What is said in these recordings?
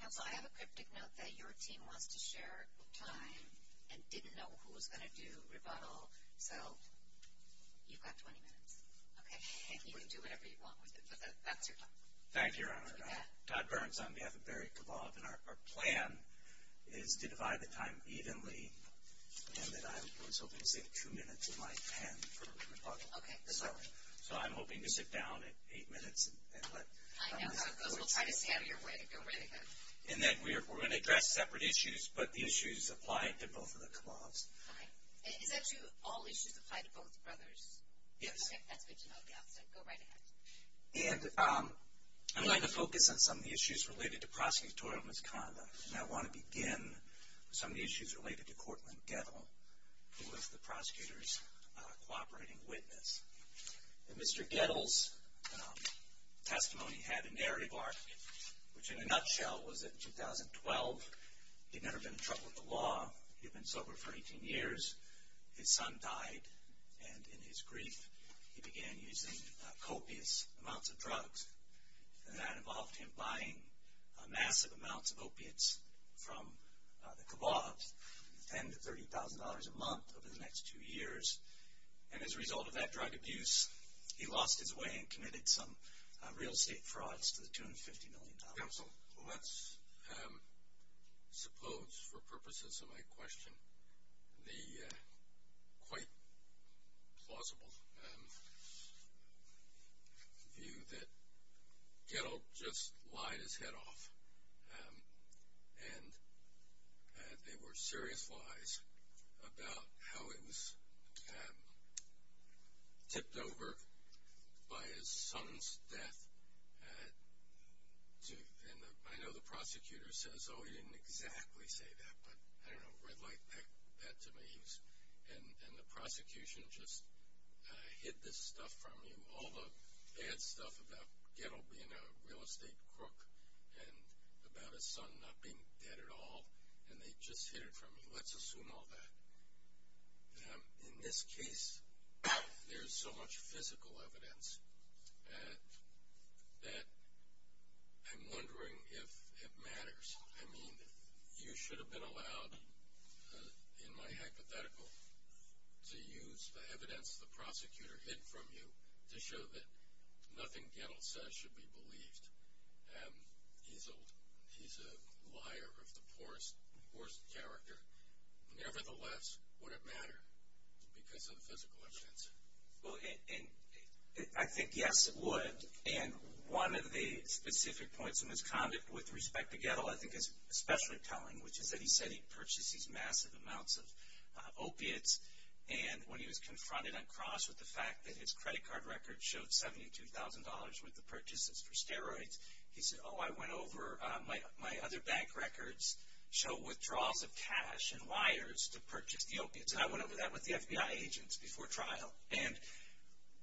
Council, I have a cryptic note that your team wants to share time and didn't know who was going to do rebuttal. So, you've got 20 minutes. Okay. And you can do whatever you want with it, but that's your time. Thank you, Your Honor. Todd Burns, I'm V.F. Kabov, and our plan is to divide the time evenly, and then I was hoping to save two minutes of my time for rebuttal. Okay. So I'm hoping to sit down at eight minutes. I know. We'll try to panel your way. Okay. And then we're going to address separate issues, but the issues apply to both of the clauses. Okay. And all issues apply to both of those? Yes. Okay. That's good to know. Go right ahead. And I'm going to focus on some of the issues related to prosecutorial misconduct, and I want to begin with some of the issues related to Courtland Gettle, who is the prosecutor's cooperating witness. Mr. Gettle's testimony had a narrative arc, which in a nutshell was that in 2012, he had never been in trouble with the law. He had been sober for 18 years. His son died, and in his grief, he began using copious amounts of drugs, and that involved him buying massive amounts of opiates from the Kabovs, and $30,000 a month over the next two years. And as a result of that drug abuse, he lost his way and committed some real estate frauds to the tune of $50 million. So let's suppose, for purposes of my question, the quite plausible view that Gettle just lied his head off, and they were serious lies about how he was tipped over by his son's death. And I know the prosecutor says, oh, he didn't exactly say that, but I don't know, but I'd like that to mean, and the prosecution just hid this stuff from him, all the bad stuff about Gettle being a real estate crook and about his son not being dead at all, and they just hid it from him. Let's assume all that. In this case, there's so much physical evidence that I'm wondering if it matters. I mean, you should have been allowed, in my hypothetical, to use the evidence the prosecutor hid from you. This shows that nothing Gettle says should be believed. He's a liar. He's a porous character. Nevertheless, would it matter because of the physical evidence? Well, I think, yes, it would. And one of the specific points in his conduct with respect to Gettle I think is especially telling, which is that he said he purchased these massive amounts of opiates. And when he was confronted on cross with the fact that his credit card record showed $72,000 worth of purchases for steroids, he said, oh, I went over my other bank records, showed withdrawals of cash and wires to purchase the opiates, and I went over that with the FBI agents before trial. And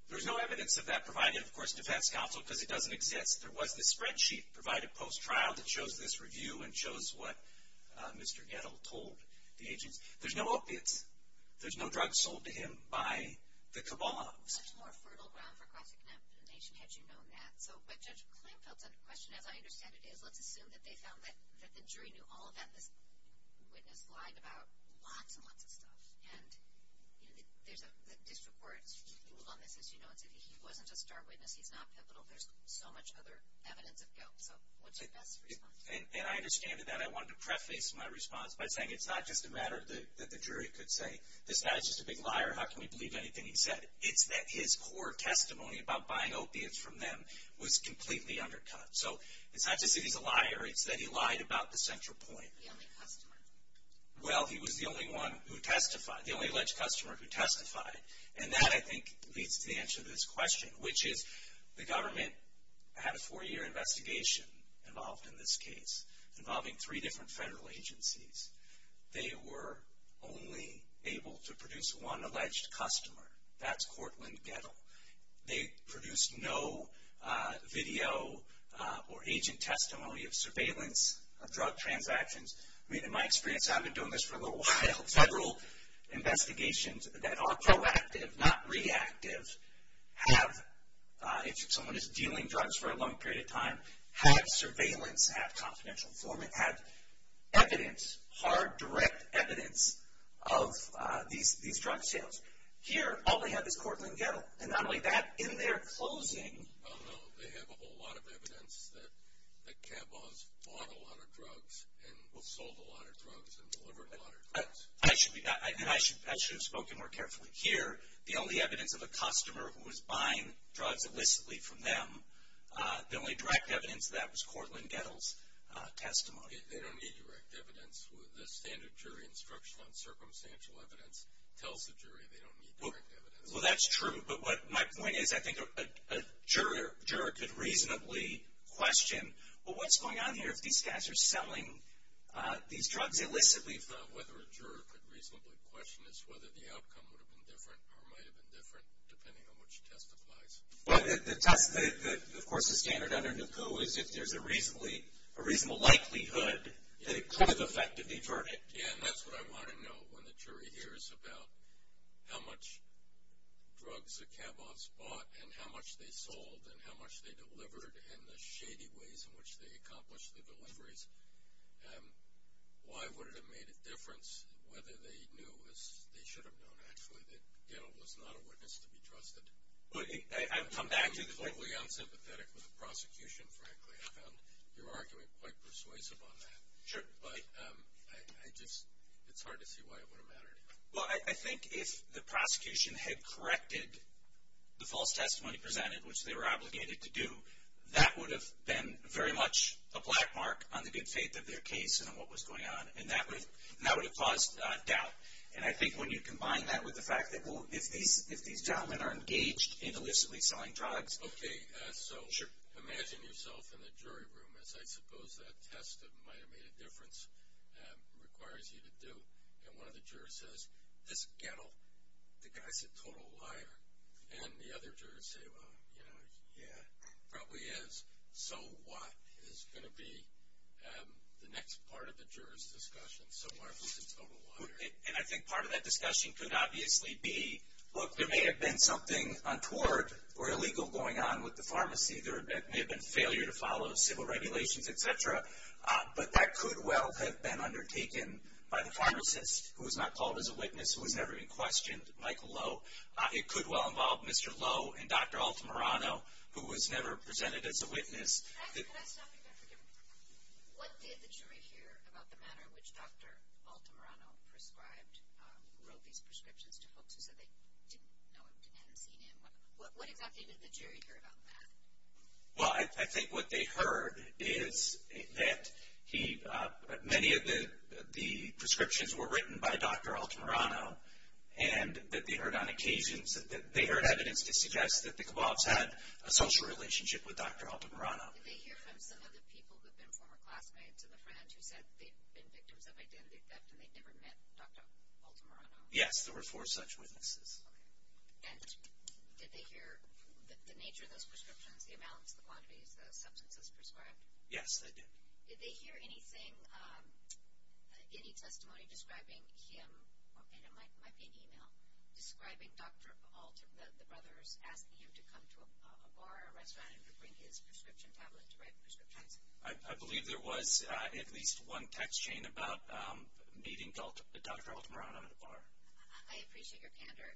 there's no evidence of that provided, of course, and if that's the opposite, it doesn't exist. There wasn't a spreadsheet provided post-trial that shows this review and shows what Mr. Gettle told the agents. There's no opiates. There's no drugs sold to him by the cabal. Much more fertile ground for cross-examination, had you known that. So if a judge clamped up on the question, as I understand it, they'd love to assume that they found that the jury knew all of that, but the witness lied about lots and lots of stuff. And there's support to all of this. You know, if he wasn't a star witness, he's not capital. There's so much other evidence of guilt. So we'll take that. And I understand that. But I wanted to preface my response by saying it's not just a matter that the jury could say, this guy's just a big liar. How can we believe anything he said? It's that his core testimony about buying opiates from them was completely undercut. So it's not just that he's a liar. It's that he lied about the central point. Well, he was the only one who testified, the only alleged customer who testified. And that, I think, leads to the answer to this question, which is the government had a four-year investigation involved in this case, involving three different federal agencies. They were only able to produce one alleged customer. That's Cortland Gettle. They produced no video or agent testimony of surveillance of drug transactions. I mean, in my experience, I've been doing this for a little while. Federal investigations that are proactive, not reactive, have if someone is dealing drugs for a long period of time, have surveillance, have confidential information, have evidence, hard, direct evidence of these drug sales. Here, all they have is Cortland Gettle. And not only that, in their closing. Oh, no, they have a whole lot of evidence that Cabot has bought a lot of drugs and will sell a lot of drugs and deliver a lot of drugs. I should have spoken more carefully. Here, the only evidence of a customer who was buying drugs illicitly from them, the only direct evidence of that was Cortland Gettle's testimony. They don't need direct evidence. The standard jury instruction on circumstantial evidence tells the jury they don't need direct evidence. Well, that's true. But my point is I think a juror could reasonably question, well, what's going on here? These guys are selling these drugs illicitly. It's not whether a juror could reasonably question. It's whether the outcome would have been different or might have been different, depending on which testifies. Of course, the standard evidence, though, is that there's a reasonable likelihood that it could have effectively hurt it. Yeah, and that's what I want to know when the jury hears about how much drugs that Cabot's bought and how much they sold and how much they delivered and the shady ways in which they accomplished the deliveries. Why would it have made a difference whether they knew, as they should have known, actually that Gettle was not a witness to be trusted? I come back to the point where you're unsympathetic with the prosecution, frankly. I found your argument quite persuasive on that. Sure. But it's hard to see why it would have mattered. Well, I think if the prosecution had corrected the false testimony presented, which they were obligated to do, that would have been very much a black mark on the good faith of their case and on what was going on, and that would have caused doubt. And I think when you combine that with the fact that, well, if these gentlemen are engaged in illicitly selling drugs. Okay, so imagine yourself in the jury room, as I suppose that test that might have made a difference requires you to do, and one of the jurors says, this Gettle, the guy's a total liar. And the other jurors say, well, yeah, probably is. So what is going to be the next part of the jurors' discussion? And I think part of that discussion could obviously be, look, there may have been something untoward or illegal going on with the pharmacy. There may have been failure to follow the civil regulations, et cetera. But that could well have been undertaken by the pharmacist, who was not called as a witness, who would never be questioned, Michael Lowe. It could well involve Mr. Lowe and Dr. Altamirano, who was never presented as a witness. Can I stop you there for a second? What did the jury hear about the manner in which Dr. Altamirano prescribed Roby's prescriptions to folks that they didn't know him and hadn't seen him? What did the jury hear about that? Well, I think what they heard is that many of the prescriptions were written by Dr. Altamirano, and that they heard on occasion, that means that they heard evidence to suggest that the Kavats had a social relationship with Dr. Altamirano. Did they hear from some of the people who had been former classmates of the French who said they'd been victims of identity theft and they'd never met Dr. Altamirano? Yes, there were four such witnesses. And did they hear the nature of those prescriptions, the amounts, the quantities of substance that was prescribed? Yes, they did. Did they hear anything, any testimony describing him, and it might be an e-mail, describing Dr. Altamirano, that the brothers asked him to come to a bar or a restaurant and to bring his prescription tablets to write the prescriptions? I believe there was at least one text chain about meeting Dr. Altamirano at a bar. I appreciate your candor.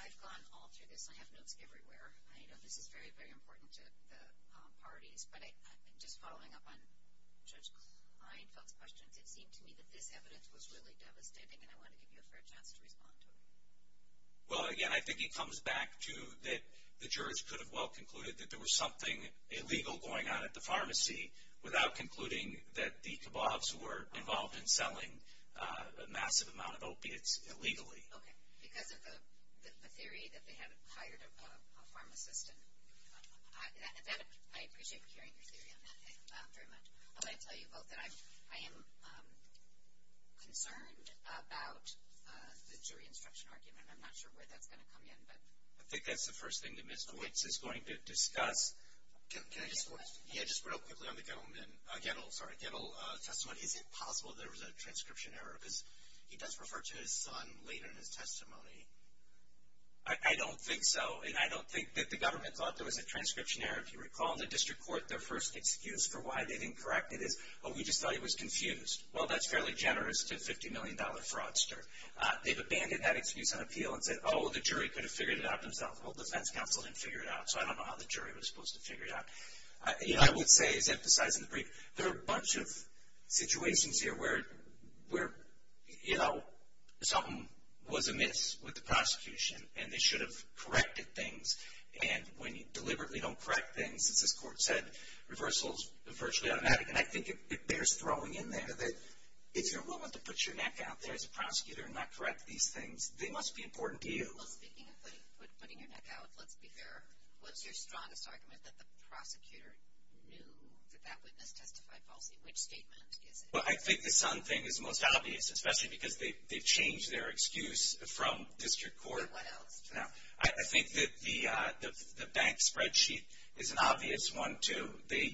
I've gone all to the plant and everywhere. I know this is very, very important to the parties. But just following up on Judge Klein's question, it seemed to me that this evidence was really devastating, and I wanted to give her a chance to respond to it. Well, again, I think he comes back to that the judge could have well concluded that there was something illegal going on at the pharmacy without concluding that the Kavats were involved in selling a massive amount of opiates illegally. Okay, because of the theory that they had hired a pharmacist. I appreciate you sharing your theory on that. Thanks very much. I will tell you both that I am concerned about the jury instruction argument. I'm not sure where that's going to come in. I think that's the first thing that Mr. Wicks is going to discuss. Can I just put it real quickly on the go, and then I'll get a little testimony. Is it possible there was a transcription error? Because he does refer to his son later in his testimony. I don't think so. I don't think that the government thought there was a transcription error. If you recall, in the district court, their first excuse for why they didn't correct it is, oh, we just thought he was confused. Well, that's fairly generous to a $50 million fraudster. They've abandoned that excuse on appeal and said, oh, the jury could have figured it out themselves. Well, the defense counsel didn't figure it out, so I don't know how the jury was supposed to figure it out. I would say, as emphasized in the brief, there are a bunch of situations here where something was amiss with the prosecution, and they should have corrected things. And when you deliberately don't correct things, as the court said, reversal is virtually automatic. And I think it bears throwing in there that if you're willing to put your neck out there as a prosecutor and not correct these things, they must be important to you. Well, speaking of putting your neck out, let's be fair. Was there a strong argument that the prosecutor knew that that witness testified falsely? Which statement? Well, I think the sound thing is the most obvious, especially because they changed their excuse from district court. Now, I think the bank spreadsheet is an obvious one, too. Why?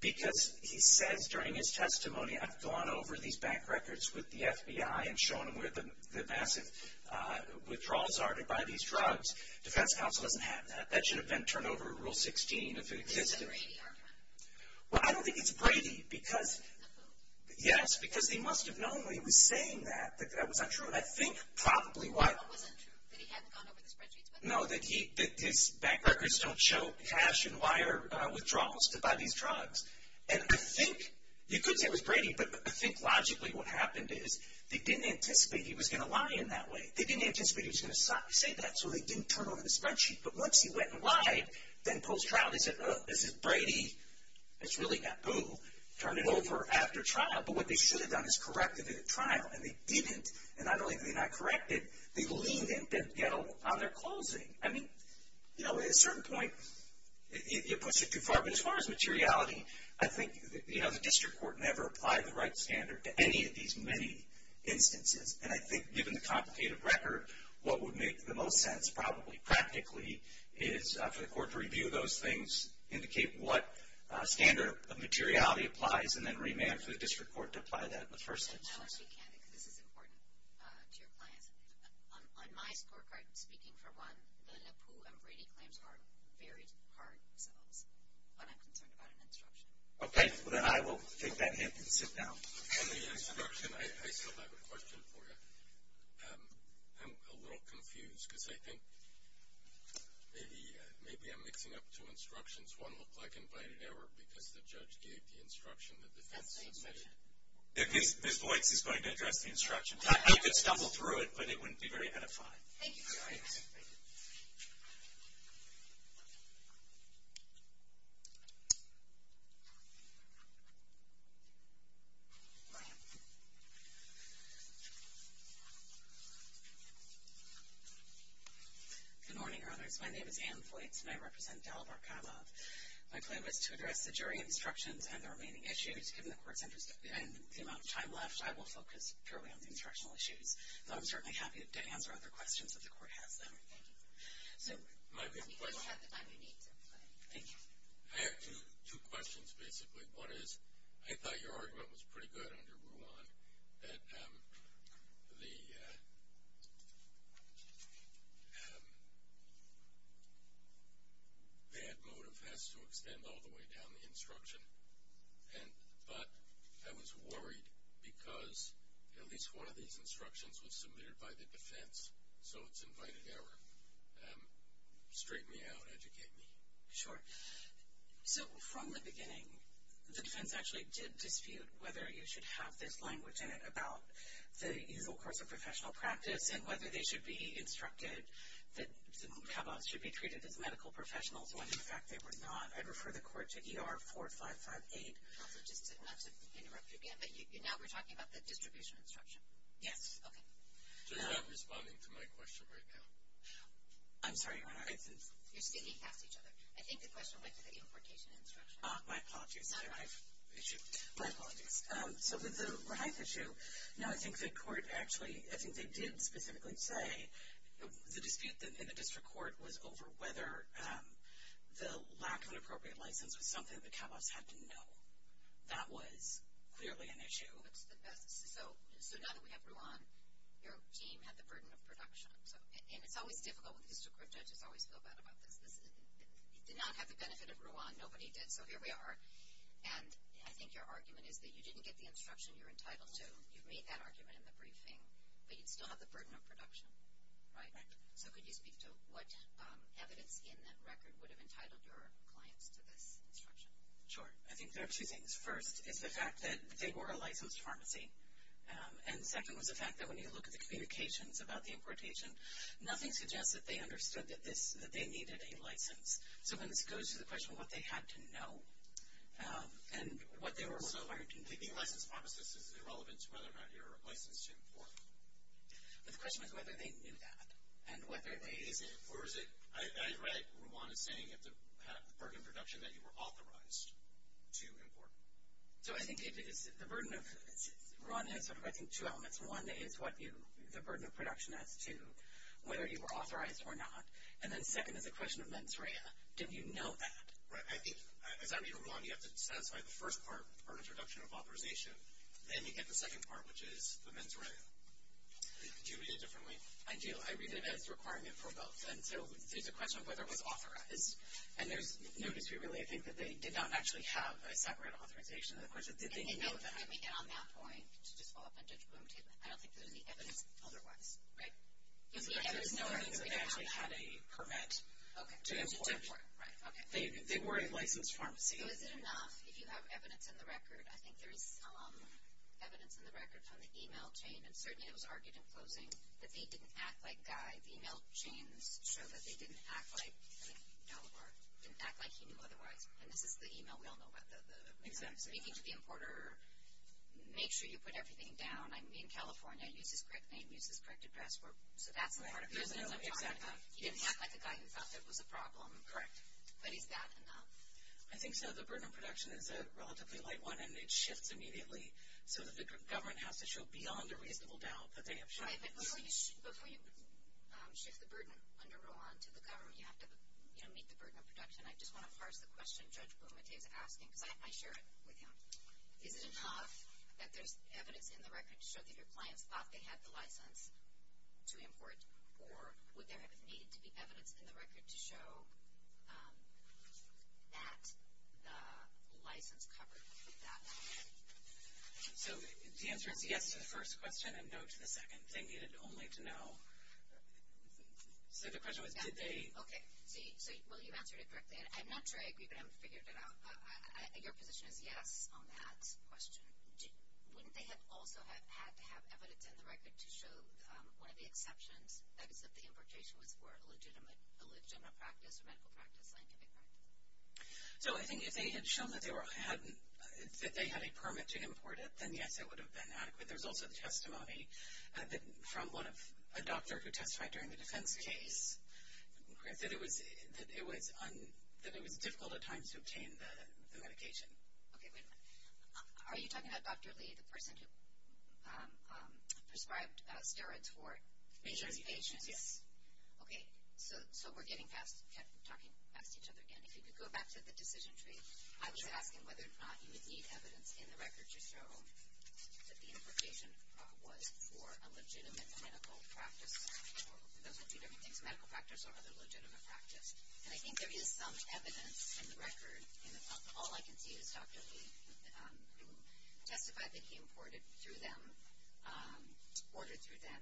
Because he said during his testimony, I've gone over these bank records with the FBI and shown them where the massive withdrawals are to buy these drugs. The defense counsel didn't have that. That should have been turned over to Rule 16. Is it Brady? Well, I don't think it's Brady because, yes, because they must have known when he was saying that, but that was not true. And I think probably what? That he hadn't gone over the spreadsheet. No, that his bank records don't show cash and wire withdrawals to buy these drugs. And I think you could say it was Brady, but I think logically what happened is they didn't anticipate he was going to lie in that way. They didn't anticipate he was going to say that, so they didn't turn over the spreadsheet. But once he went and lied, then post-trial they said, Well, this is Brady. It's really Naboo. Turn it over after trial. But what they should have done is corrected it at trial, and they didn't. And not only have they not corrected, they've leaned in and didn't get on their closing. I mean, you know, at a certain point it went too far. But as far as materiality, I think, you know, the district court never applied the right standard to any of these many instances. And I think given the complicated record, what would make the most sense probably practically is for the court to review those things and indicate what standard of materiality applies and then remand to the district court to apply that in the first instance. I don't think it can because it's important to your client. On my part, speaking for one, the Naboo and Brady claims are very hard, so I'm not concerned about an instruction. Okay. Well, then I will take that hint and sit down. I have an instruction. I still have a question for you. I'm a little confused because I think maybe I'm mixing up two instructions. One looked like in plain error because the judge gave the instruction that the defense needed. His voice is going to address the instructions. I could stumble through it, but it wouldn't be very ahead of time. Thank you. Good morning, Your Honors. My name is Ann Boyce, and I represent Delaware-Canada. My plan was to address the jury instructions and the remaining issues. Given the court's interest and the amount of time left, I will focus purely on the instructional issues. I'm certainly happy to answer other questions that the court has. I have two questions, basically. One is, I thought your argument was pretty good under Rule 1, that they had motor pets to extend all the way down the instruction. But I was worried because at least one of these instructions was submitted by the defense, so it's in plain error. Straighten me out. Educate me. Sure. So, from the beginning, the defense actually did dispute whether you should have this language in it about the usual course of professional practice and whether they should be instructed that the mabob should be treated as medical professionals when, in fact, they were not. I'd refer the court to E.R. 4558. Now we're talking about the distribution instruction. Yes. Okay. They're not responding to my question right now. I'm sorry. You should be on behalf of each other. I think the question went to the importation instruction. My apologies. It's not a rights issue. My apologies. So, the rights issue. No, I think the court actually, I think they did specifically say the dispute that's in the district court was over whether the lack of an appropriate license was something that CAVAS had to know. That was clearly an issue. So, assuming we had Rule 1, your team had the burden of production. So, it's always difficult when it's encrypted. It's always so bad about this. It did not have the benefit of Rule 1. Nobody did. So, here we are. And I think your argument is that you didn't get the instruction you're entitled to. You made that argument in the briefing, but you still have the burden of production. Right? So, could you speak to what evidence in that record would have entitled your client to this instruction? Sure. I think there are two things. First, it's the fact that they were a licensed pharmacy. And second was the fact that when you look at the communications about the importation, nothing suggests that they understood that they needed a license. So, when it goes to the question of what they had to know and what they were required to do. I think the license pharmacist is relevant to whether or not they were licensed to import. But the question is whether they knew that and whether they did. Or is it Rule 1 is saying you have to have the burden of production that you were authorized to import. So, I think it's the burden of production. Rule 1 has, I think, two elements. One is the burden of production as to whether you were authorized or not. And then second is the question of mens rea. Did you know that? Right. I think, as I read Rule 1, you have to satisfy the first part, or introduction of authorization. Then you get the second part, which is the mens rea. You read it differently. I do. I read it as a requirement for both. And so, the question of whether it was authorized. And there's no detribution. I think that they did not actually have a separate authorization. And, of course, it's easy to know that. And on that point, it's just all a difficult motivation. I don't think there's any evidence otherwise. Right? I didn't know that they actually had a permit to import. They weren't licensed pharmacies. If you have evidence in the record, I think there is evidence in the record on the e-mail chain, and certainly it was argued in posting, that they didn't act like that. The e-mail chain showed that they didn't act like he knew otherwise. And this is the e-mail. We all know what that is. Make sure you put everything down. In California, I use the correct name, use the correct address. So, that's part of it. He didn't act like he thought it was the problem. Correct. But is that enough? I think so. The burden of production is a relatively light one. And it shifts immediately. So, the government has to show beyond a reasonable doubt that they have shifted. But before you shift the burden under Rowan to the government, you have to meet the burden of production. I just want to parse the question, Judd, from McKay's asking. But I share it with him. Is it enough that there's evidence in the record to show that your client thought they had the license to import? Or would there need to be evidence in the record to show that the license covers that action? So, the answer to the first question and no to the second. They needed only to know. So, the question was, did they? Okay. So, will you answer it correctly? I'm not sure I even figured it out. Your position is, yes, on that question. Wouldn't they also have evidence in the record to show one of the exceptions, that is, that the importation was for a legitimate practice, a medical practice plan? So, I think if they had shown that they had a permit to import it, then, yes, it would have been adequate. There's also testimony from a doctor who testified during the defense case. That it was difficult at times to obtain the medication. Okay, wait a minute. Are you talking about Dr. Lee, the person who prescribed steroids for HIV patients? Yes. Okay. So, we're getting back, talking back to each other again. If you could go back to the decision tree, how would you ask him whether or not he would need evidence in the record to show that the importation was for a legitimate medical practice? It doesn't have to be a medical practice or other legitimate practice. And I think there would be some evidence in the record. All I can see is Dr. Lee, who testified that he imported through them, ordered through them,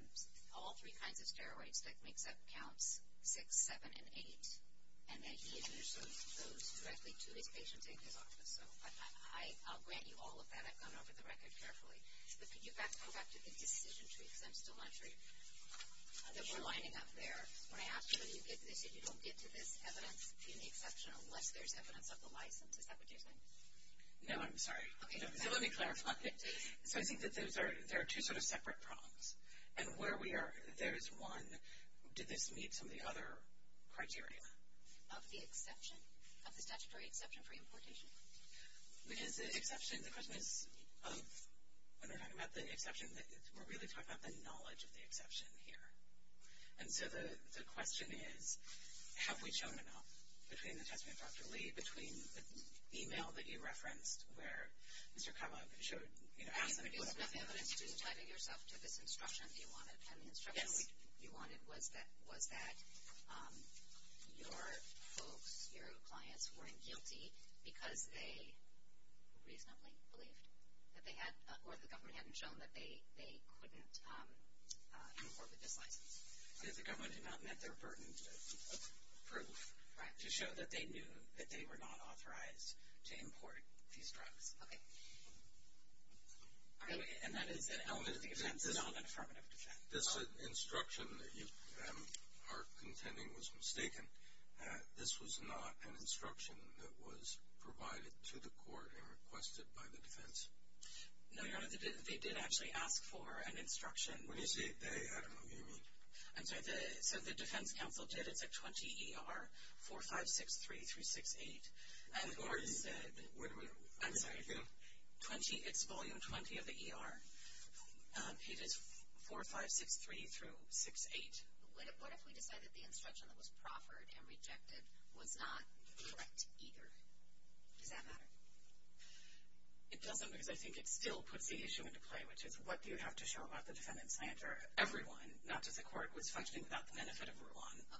all three kinds of steroids, that makes that count, six, seven, and eight. And then he initially chose directly to the patient-taken drugs. So, I'll grant you all of that. I've gone over the record carefully. But can you go back to the decision tree, since it's a luxury? There's one lining up there. Can I ask you, if you don't get to this evidence, do you need an exception unless there's evidence of the license? Is that what you're saying? No, I'm sorry. Okay. No, let me clarify. So, I think that there are two sort of separate problems. And where we are, there is one, did this meet some of the other criteria? Of the exception, of the statutory exception for importation? The exception, when we're talking about the exception, we're really talking about the knowledge of the exception here. And so, the question is, have we shown enough, between the testimony of Dr. Lee, between the e-mail that you referenced, where Mr. Carlisle showed, you know, adding the material and everything else, and you decided yourself to this instruction, you wanted an instruction, you wanted, was that your folks, your clients, weren't guilty because they reasonably believed that they had, or the government hadn't shown that they couldn't import the device? Because the government had not met their burden of proof. Right. To show that they knew that they were not authorized to import these drugs. Okay. And that is an element exempted on the permanent project. This instruction that you are contending was mistaken. This was not an instruction that was provided to the court and requested by the defense. No, they did actually ask for an instruction. When you say they, I don't know what you mean. I'm sorry, the defense counsel did at the 20ER-4563-368. Who are you? Where are you? I'm sorry, Drew. 20, it's volume 20 of the ER. I'm sorry. It's 4563-368. But what if the instruction was proffered and rejected, was not directed either? Did that matter? It doesn't, because I think it still puts the issue into play, which is what do you have to show about the defendant? I answer, everyone, not just the court, would such things not benefit everyone? Okay.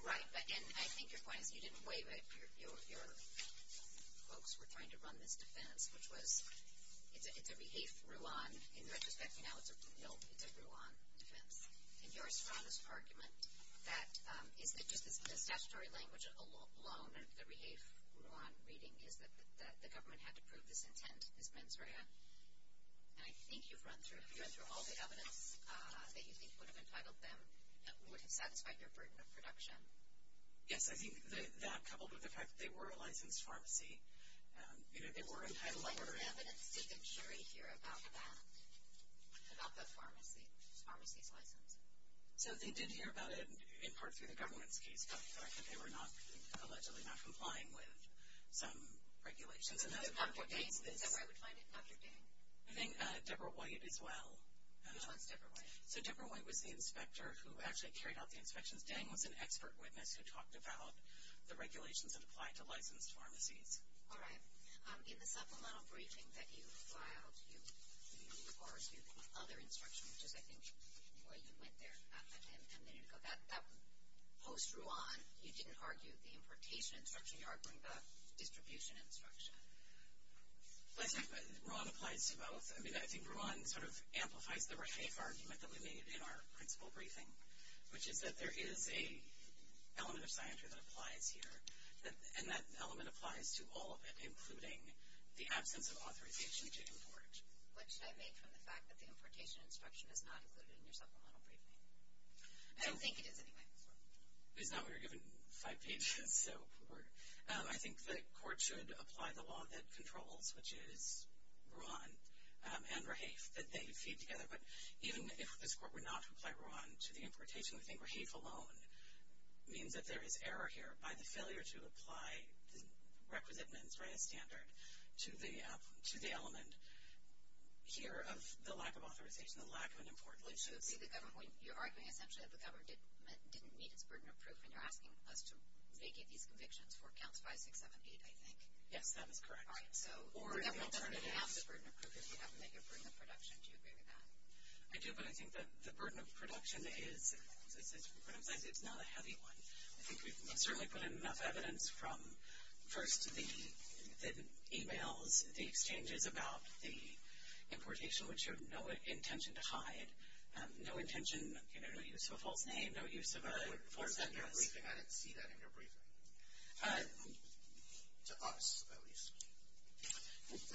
Right. And I think your client, you didn't waive it. Your folks were trying to run this defense, which was if the behavior grew on in registered analysis, no, they grew on the defense. And your status argument that it's just a sort of statutory language alone that the behavior grew on in reading is that the government had to prove its intent. And I think you've run through all the evidence that you think would have entitled them that wouldn't satisfy their production. Yes, I think that coupled with the fact that they were licensed pharmacies, because they were entitled by court of evidence. Did the jury hear about that, about the pharmacies license? So they did hear about it in part through the government, because they were not allegedly not complying with regulations. And then the subject name, is that what I would find in the subject name? I think Deborah Wyatt as well. Deborah Wyatt. So Deborah Wyatt was the inspector who actually carried out the inspection and was then an expert witness who talked about the regulations that apply to licensed pharmacies. All right. In the supplemental briefing that you filed, you are using other instructions, which is, I think, what went there at the time, 10 minutes ago. That was post-Ruon. You didn't argue the importation instruction. You argued the distribution instruction. I think that Ruon applied to both. I mean, I think Ruon sort of amplified the right argument, at least in our principal briefing, which is that there is an element of spina bifida that applies here, and that element applies to all of it, including the absence of authorization to import. Which I made from the fact that the importation instruction is not included in your supplemental briefing. I don't think it is, anyway. It's not what you're given. In fact, you should. So I think the court should apply the law that it controls, which is Ruon and Rafe, and say you keep together. But even if this court were not to apply Ruon to the importation, I think Rafe alone means that there is error here by the failure to apply the requisite amendments, right? It's standard, to the element here of the lack of authorization, the lack of an import. You are saying essentially that the government didn't need a burden of proof when they're asking us to make any of these convictions for accounts 5678, I think. Yes, that is correct. We don't necessarily have the burden of proof if you have to make a burden of production to do that. I do, but I think the burden of production is not a heavy one. I think we've certainly put in enough evidence from first the e-mails, the exchanges about the importation, which have no intention to hide, no intention, you know, to use a false name, no use of a report that's not a briefing. I didn't see that in your briefing. To us, at least.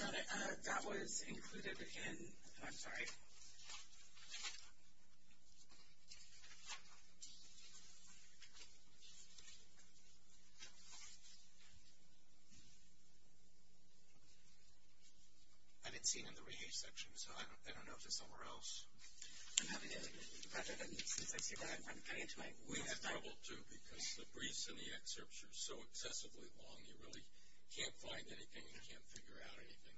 That was included in, I'm sorry. I didn't see it in the re-age section, so I don't know if it's somewhere else. I'm not going to get into this, Mr. President, because I think you're at one page length. We have trouble, too, because the briefs and the excerpts are so excessively long. You really can't find anything. You can't figure out anything.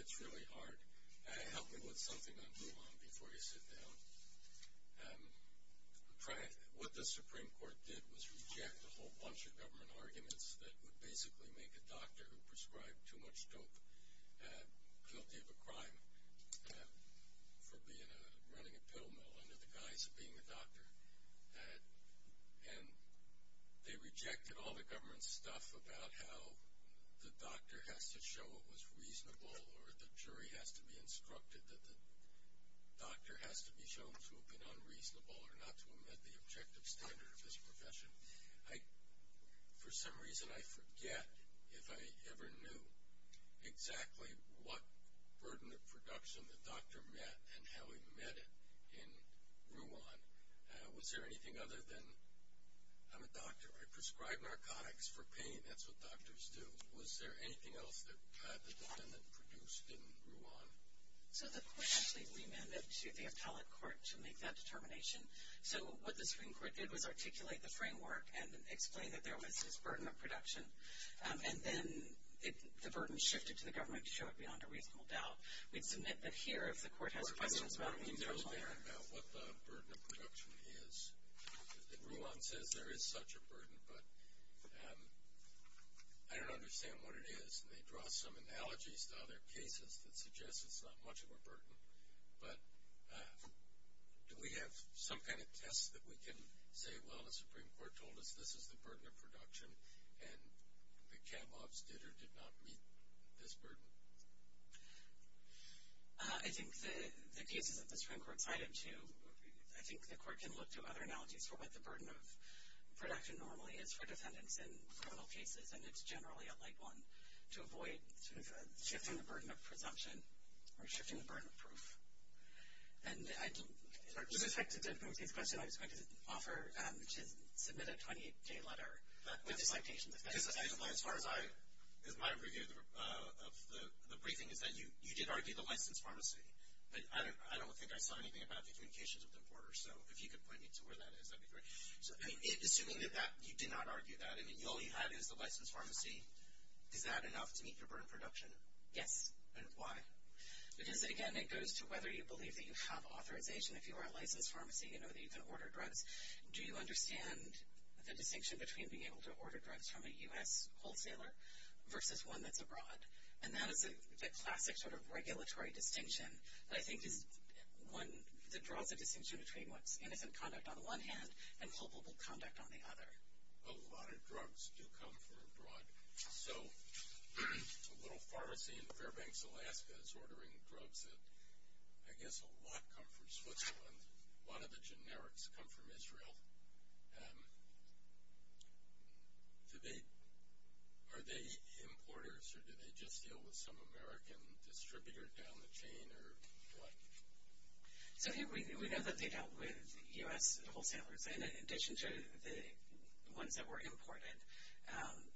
It's really hard. Help me with something on Mulan before you sit down. What the Supreme Court did was reject a whole bunch of government arguments that would basically make a doctor who prescribed too much dope guilty of a running a pill mill under the guise of being a doctor. And they rejected all the government stuff about how the doctor has to show what was reasonable or the jury has to be instructed that the doctor has to be shown to have been unreasonable or not to have met the objective standard of this profession. For some reason, I forget if I ever knew exactly what burden of production the doctor met and how he met it in Rwanda. Was there anything other than I'm a doctor. I prescribe narcotics for pain. That's what doctors do. Was there anything else at the time that produced in Rwanda? So the question I think we meant to the appellate court to make that determination. So what the Supreme Court did was articulate the framework and explain that there was this burden of production. And then the burden shifted to the government to show it beyond a reasonable doubt. Here, if the court has a question. What the burden of production is. The rule of law says there is such a burden, but I don't understand what it is. They draw some analogies to other cases that suggest it's not much of a burden. But do we have some kind of test that we can say, well, the Supreme Court told us this is the burden of production, and we can't walk straight through this burden? I think the cases that the Supreme Court cited, too, I think the court can look to other analogies for what the burden of production normally is for defendants in criminal cases, and it's generally a light one to avoid shifting the burden of presumption or shifting the burden of proof. In effect, that's a good question. I can offer to submit a 28-day letter to my patient. As far as my review of the briefing, you did argue the licensed pharmacy. But I don't think I saw anything about the implications of the border. So if you could point me to where that is, that would be great. Assuming that you did not argue that, and you only had it at the licensed pharmacy, is that enough to meet your burden of production? Yes. And why? Because, again, it goes to whether you believe that you have authorization. If you are a licensed pharmacy, you know that you can order drugs. Do you understand the distinction between being able to order drugs from a U.S. wholesaler versus one that's abroad? And that is the classic sort of regulatory distinction. I think the draw of the distinction between what's innocent conduct on one hand and culpable conduct on the other. A lot of drugs still come from abroad. So a little pharmacy in Fairbanks, Alaska, is ordering drugs that I guess a lot come from Switzerland. A lot of the generics come from Israel. Are they importers, or do they just deal with some American distributor down the chain? We have that layout with U.S. wholesalers in addition to the ones that were imported.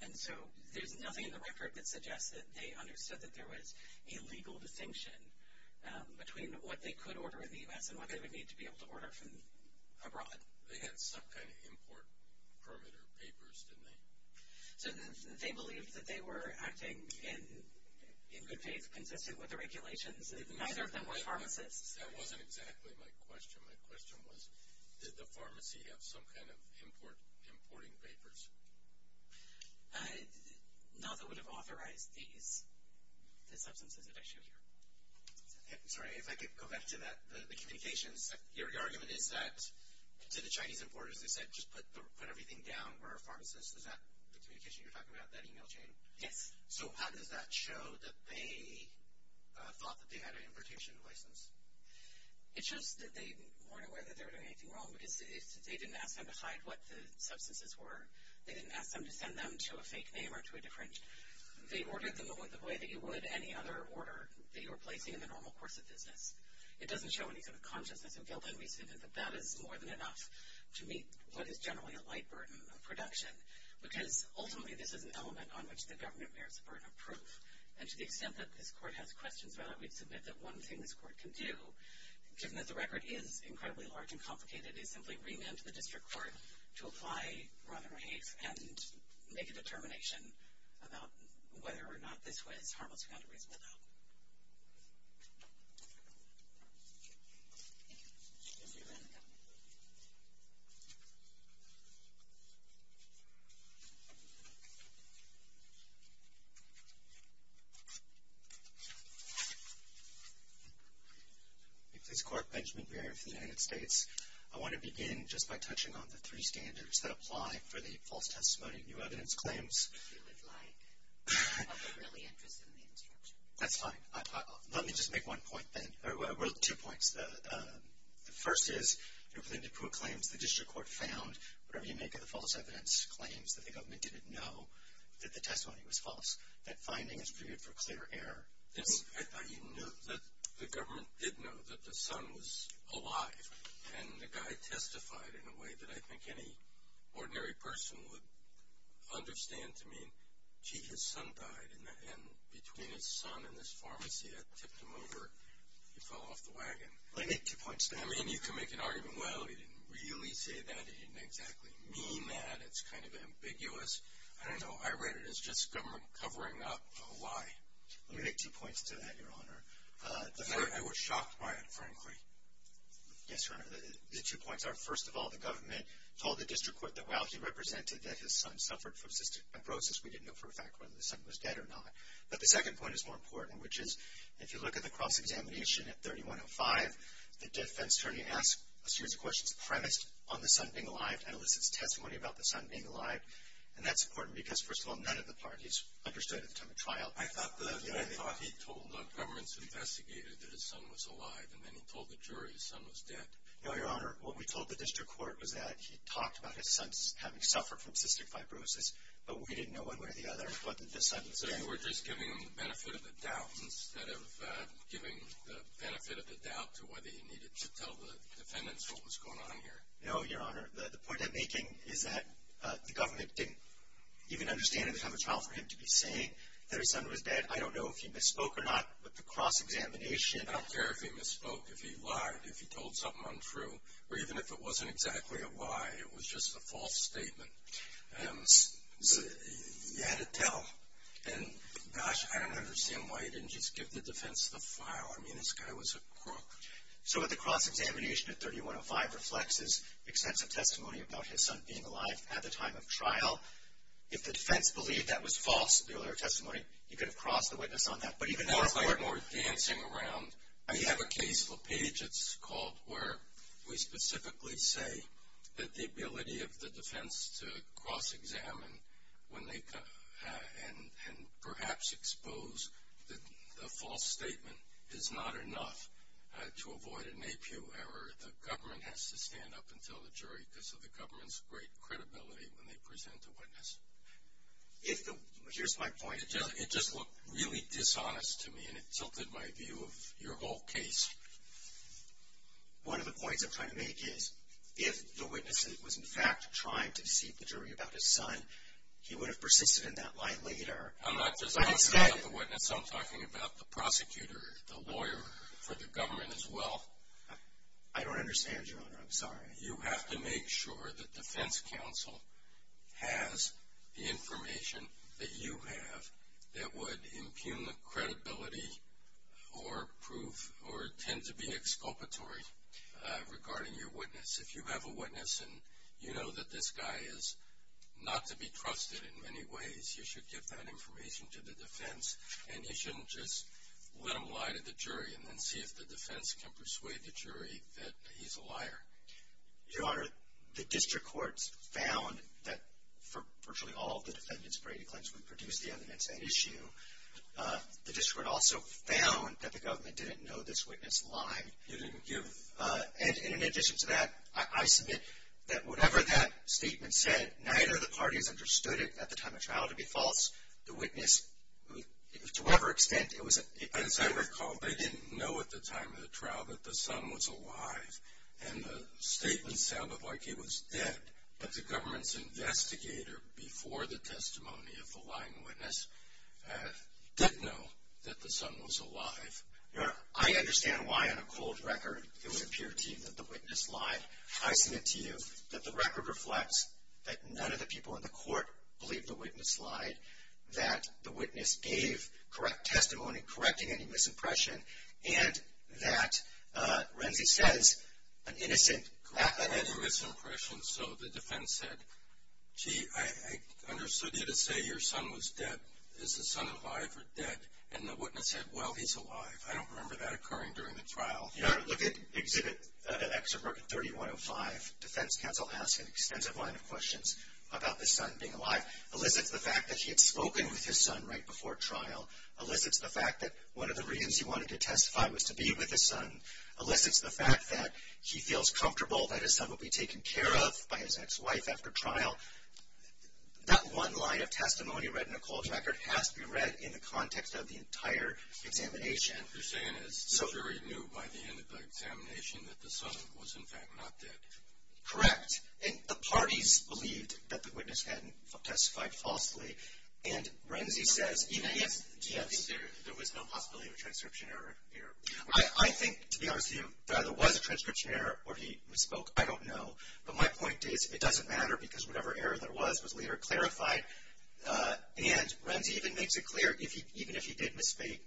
And so there's nothing in the record that suggests that they understood that there was a legal distinction between what they could order in the U.S. and what they would need to be able to order from abroad. They had some kind of import permit or papers, didn't they? They believed that they were acting in good faith consistent with the regulations. Neither of them were pharmacists. That wasn't exactly my question. My question was, did the pharmacy have some kind of importing papers? No, they wouldn't have authorized these. It's substance abduction. Sorry, if I could go back to that, the communications. Your argument is that the Chinese importers said just put everything down. We're a pharmacist. Is that the communication you're talking about, that email chain? Yes. So how does that show that they thought that they had an importation license? It's just that they weren't aware that they were doing anything wrong. They didn't ask them to find what the substances were. They didn't ask them to send them to a fake name or to a different. They ordered them the way that you would any other order that you were placing in the normal course of business. It doesn't show any kind of consciousness of guilt. It means that that is more than enough to meet what is generally a light burden of production because, ultimately, this is an element on which the government bears a burden of proof. And to the extent that the court has questions about it, I would submit that one thing this court can do, given that the record is incredibly large and complicated, is simply bring them to the district court to apply broader case and make a determination about whether or not this went as far as it's going to go. This court, Benjamin Bearer of the United States. I want to begin just by touching on the three standards that apply for the false testimony of new evidence claims. That's fine. Let me just make one point then. I wrote two points. The first is, if the district court claims the district court found, whatever you make of the false evidence claims, that the government didn't know that the testimony was false, that finding is previewed for clear error. I didn't know that the government didn't know that the son was alive. And the guy testified in a way that I think any ordinary person would understand to me. His son died, and between his son and his pharmacy, I tipped him over. He fell off the wagon. I mean, you can make an argument, well, he didn't really say that. He didn't exactly mean that. It's kind of ambiguous. I don't know. I read it as just covering up a lie. Let me make two points to that, Your Honor. I was shocked by it, frankly. Yes, Your Honor. The two points are, first of all, the government told the district court that while she represented that his son suffered from cystic fibrosis, we didn't know for a fact whether the son was dead or not. But the second point is more important, which is, if you look at the cross-examination at 3105, the defense attorney asked a series of questions, the premise on the son being alive and a list of testimony about the son being alive. And that's important because, first of all, none of the parties understood at the time of trial. I thought the judge told the governments who investigated that his son was alive, and then he told the jury his son was dead. No, Your Honor. What we told the district court was that he talked about his son having suffered from cystic fibrosis, but we didn't know one way or the other whether the son was dead. So you were just giving them the benefit of the doubt instead of giving the benefit of the doubt to whether he needed to tell the defendants what was going on here. No, Your Honor. The point I'm making is that the government didn't even understand at the time of trial for him to be saying that his son was dead. I don't know if he misspoke or not, but the cross-examination about therapy misspoke if he lied, if he told something untrue, or even if it wasn't exactly a lie, it was just a false statement. You had to tell. And, gosh, I don't understand why he didn't just give the defense the file. I mean, this guy was a crook. So the cross-examination at 3105 reflects his extensive testimony about his son being alive at the time of trial. If the defense believed that was false, the other testimony, you could have crossed the witness on that. But even so, Your Honor, we're dancing around. I have a case called where we specifically say that the ability of the defense to cross-examine and perhaps expose the false statement is not enough to avoid an APU error. The government has to stand up and tell the jury. I think this is the government's great credibility when they present the witness. Here's my point. It just looked really dishonest to me, and it tilted my view of your whole case. One of the points that I made is if the witness was in fact trying to deceive the jury about his son, he would have persisted in that lie later. I'm not talking about the witness. I'm talking about the prosecutor, the lawyer, or the government as well. I don't understand, Your Honor. I'm sorry. You have to make sure that the defense counsel has the information that you have that would impugn the credibility or prove or tend to be exculpatory regarding your witness. If you have a witness and you know that this guy is not to be trusted in many ways, you should give that information to the defense, and you shouldn't just let them lie to the jury and then see if the defense can persuade the jury that he's a liar. Your Honor, the district courts found that virtually all the defendants for AP claims would produce the evidence at issue. The district also found that the government didn't know this witness lied. In addition to that, I submit that whatever that statement said, neither of the parties understood it at the time of trial to be false. The witness, to whatever extent, as I recall, they didn't know at the time of the trial that the son was alive. And the statement sounded like it was that the government's investigator, before the testimony of the lying witness, didn't know that the son was alive. Your Honor, I understand why on a cold record it would appear to you that the witness lied. I submit to you that the record reflects that none of the people in the court believe the witness lied, that the witness gave correct testimony, correcting any misimpression, and that Renzi's dad is an innocent, graphically innocent person. So the defense said, gee, I understood you to say your son was dead. Is the son alive or dead? And the witness said, well, he's alive. I don't remember that occurring during the trial. Your Honor, look at Exhibit X of Article 3105. The defense counsel asked an extensive line of questions about the son being alive. It elicits the fact that he had spoken with his son right before trial. It elicits the fact that one of the reasons he wanted to testify was to be with his son. It elicits the fact that he feels comfortable that his son will be taken care of by his ex-wife after trial. Not one line of testimony read in the cold record has to be read in the context of the entire examination. Your Honor, you're saying it's very new by the end of the examination that the son was, in fact, not dead. Correct. And the parties believed that the witness had testified falsely. And Renzi said even if there was some possibility of a transcription error here. I think, to be honest with you, there either was a transcription error or he spoke. I don't know. But my point is it doesn't matter because whatever error there was was later clarified. And Renzi even makes it clear, even if he did misspeak,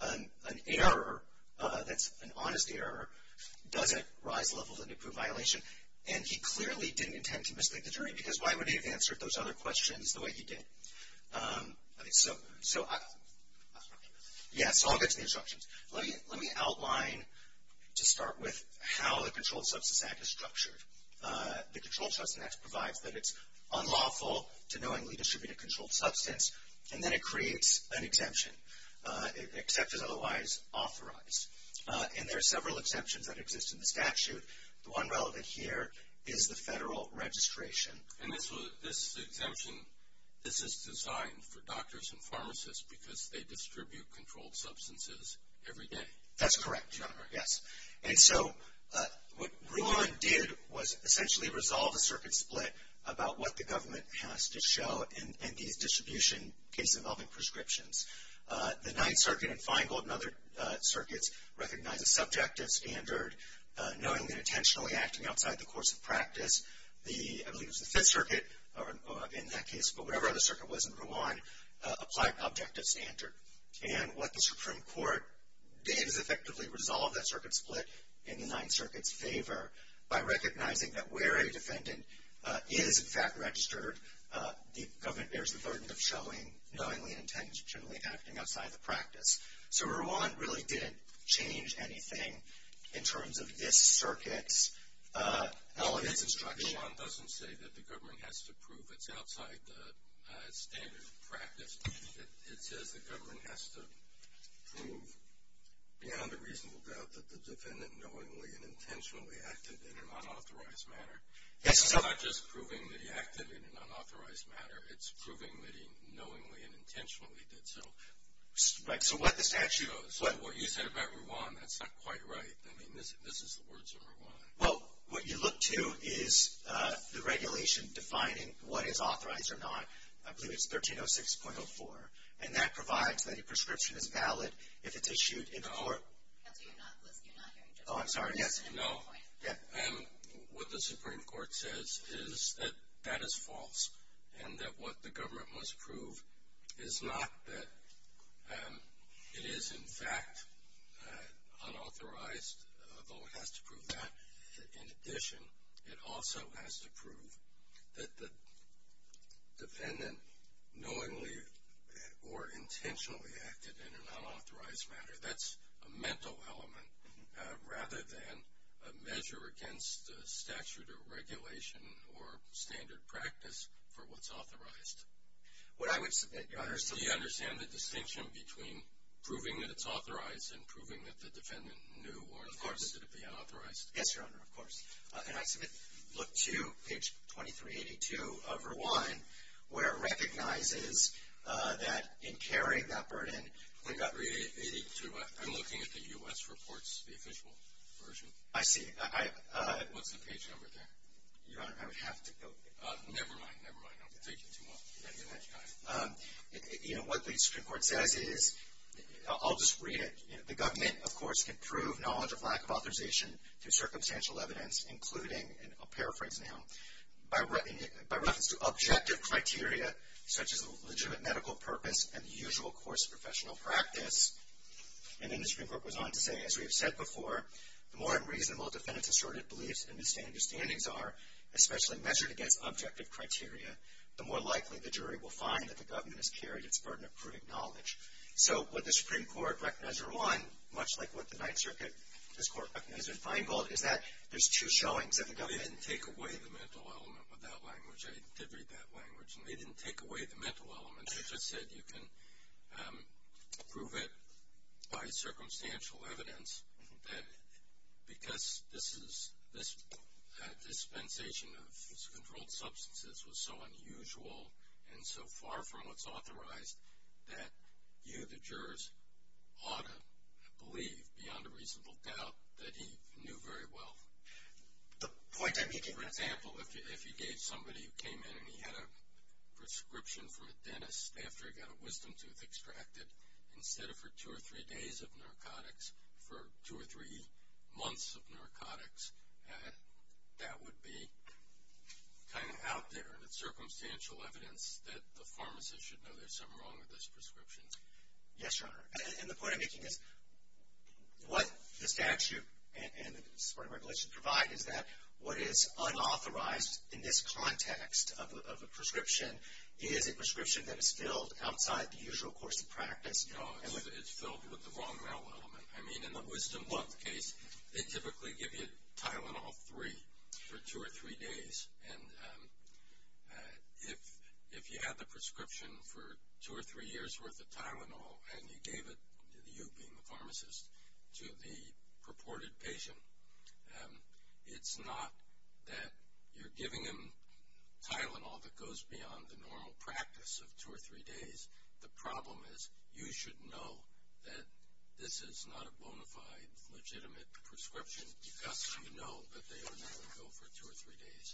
an error, an honest error, doesn't rise levels and improve violation. And he clearly didn't intend to misspeak the jury because why would he have answered those other questions the way he did? So I'll get to the instructions. Let me outline, to start with, how the Controlled Substance Act is structured. The Controlled Substance Act provides that it's unlawful to knowingly distribute a controlled substance, and then it creates an exemption, except it otherwise authorized. And there are several exemptions that exist in the statute. The one relevant here is the federal registration. And this exemption, this is designed for doctors and pharmacists because they distribute controlled substances every day. That's correct, Your Honor, yes. And so what Rewine did was essentially resolve a circuit split about what the government has to show in the distribution case involving prescriptions. The Ninth Circuit and Feingold and other circuits recognize a subjective standard, knowingly and intentionally acting outside the course of practice. I believe it was the Fifth Circuit in that case, but whatever other circuit was in Rewine, applied an objective standard. And what the Supreme Court did is effectively resolve that circuit split in the Ninth Circuit's favor by recognizing that where a defendant is, in fact, registered, the government bears the burden of showing knowingly and intentionally acting outside the practice. So Rewine really didn't change anything in terms of this circuit. Rewine doesn't say that the government has to prove it's outside the standards of practice. It says the government has to prove beyond a reasonable doubt that the defendant knowingly and intentionally acted in an unauthorized manner. It's not just proving that he acted in an unauthorized manner. It's proving that he knowingly and intentionally did so. So what this actually does, what you said about Rewine, that's not quite right. I mean, this is the words of Rewine. Well, what you look to is the regulation defining what is authorized or not. I believe it's 1306.04. And that provides that a prescription is valid if it's issued in a court. You're not hearing me. Oh, I'm sorry. No. What the Supreme Court says is that that is false and that what the government must prove is not that it is, in fact, unauthorized. No one has to prove that. In addition, it also has to prove that the defendant knowingly or intentionally acted in an unauthorized manner. That's a mental element rather than a measure against the statute or regulation or standard practice for what's authorized. What I would say, Governor, is do you understand the distinction between proving that it's authorized and proving that the defendant knew or, of course, is it being unauthorized? Yes, Your Honor. Of course. And I can look to page 2382 of Rewine, where it recognizes that in carrying that burden, I'm looking at the U.S. Reports, the official version. I see. What's the page number there? Your Honor, I would have to go there. Never mind. Never mind. You know, what the Supreme Court said is, I'll just read it. The government, of course, can prove knowledge of lack of authorization to circumstantial evidence, including, and I'll paraphrase now, by reference to objective criteria such as a legitimate medical purpose and the usual course of professional practice. And then the Supreme Court goes on to say, as we have said before, the more reasonable defendant's assertive beliefs and misunderstandings are, especially measured against objective criteria, the more likely the jury will find that the government has carried its burden of proving knowledge. So what the Supreme Court recognized in Rewine, much like what the Ninth Circuit, this Court recognized in Feingold, is that there's two showings. They didn't take away the mental element of that language. I did read that language. They didn't take away the mental element. They just said you can prove it by circumstantial evidence because this dispensation of controlled substances was so unusual and so far from what's authorized that you, the jurors, ought to believe, beyond a reasonable doubt, that he knew very well. The point I'm making, for example, if you gave somebody who came in and he had a prescription for a dentist after he got a wisdom tooth extracted, instead of for two or three days of narcotics, for two or three months of narcotics, that would be kind of out there. It's circumstantial evidence that the pharmacist should know there's something wrong with those prescriptions. Yes, Your Honor. And the point I'm making is what the statute and the Supreme Court regulation provide is that what is unauthorized in this context of a prescription and he had a prescription that is filled outside the usual course of practice. And it's filled with the wrong mental element. I mean, in the wisdom tooth case, they typically give you Tylenol for two or three days. And if you have a prescription for two or three years' worth of Tylenol and you gave it to you, being the pharmacist, to the purported patient, it's not that you're giving him Tylenol that goes beyond the normal practice of two or three days. The problem is you should know that this is not a bona fide, legitimate prescription because you know that they don't have to go for two or three days.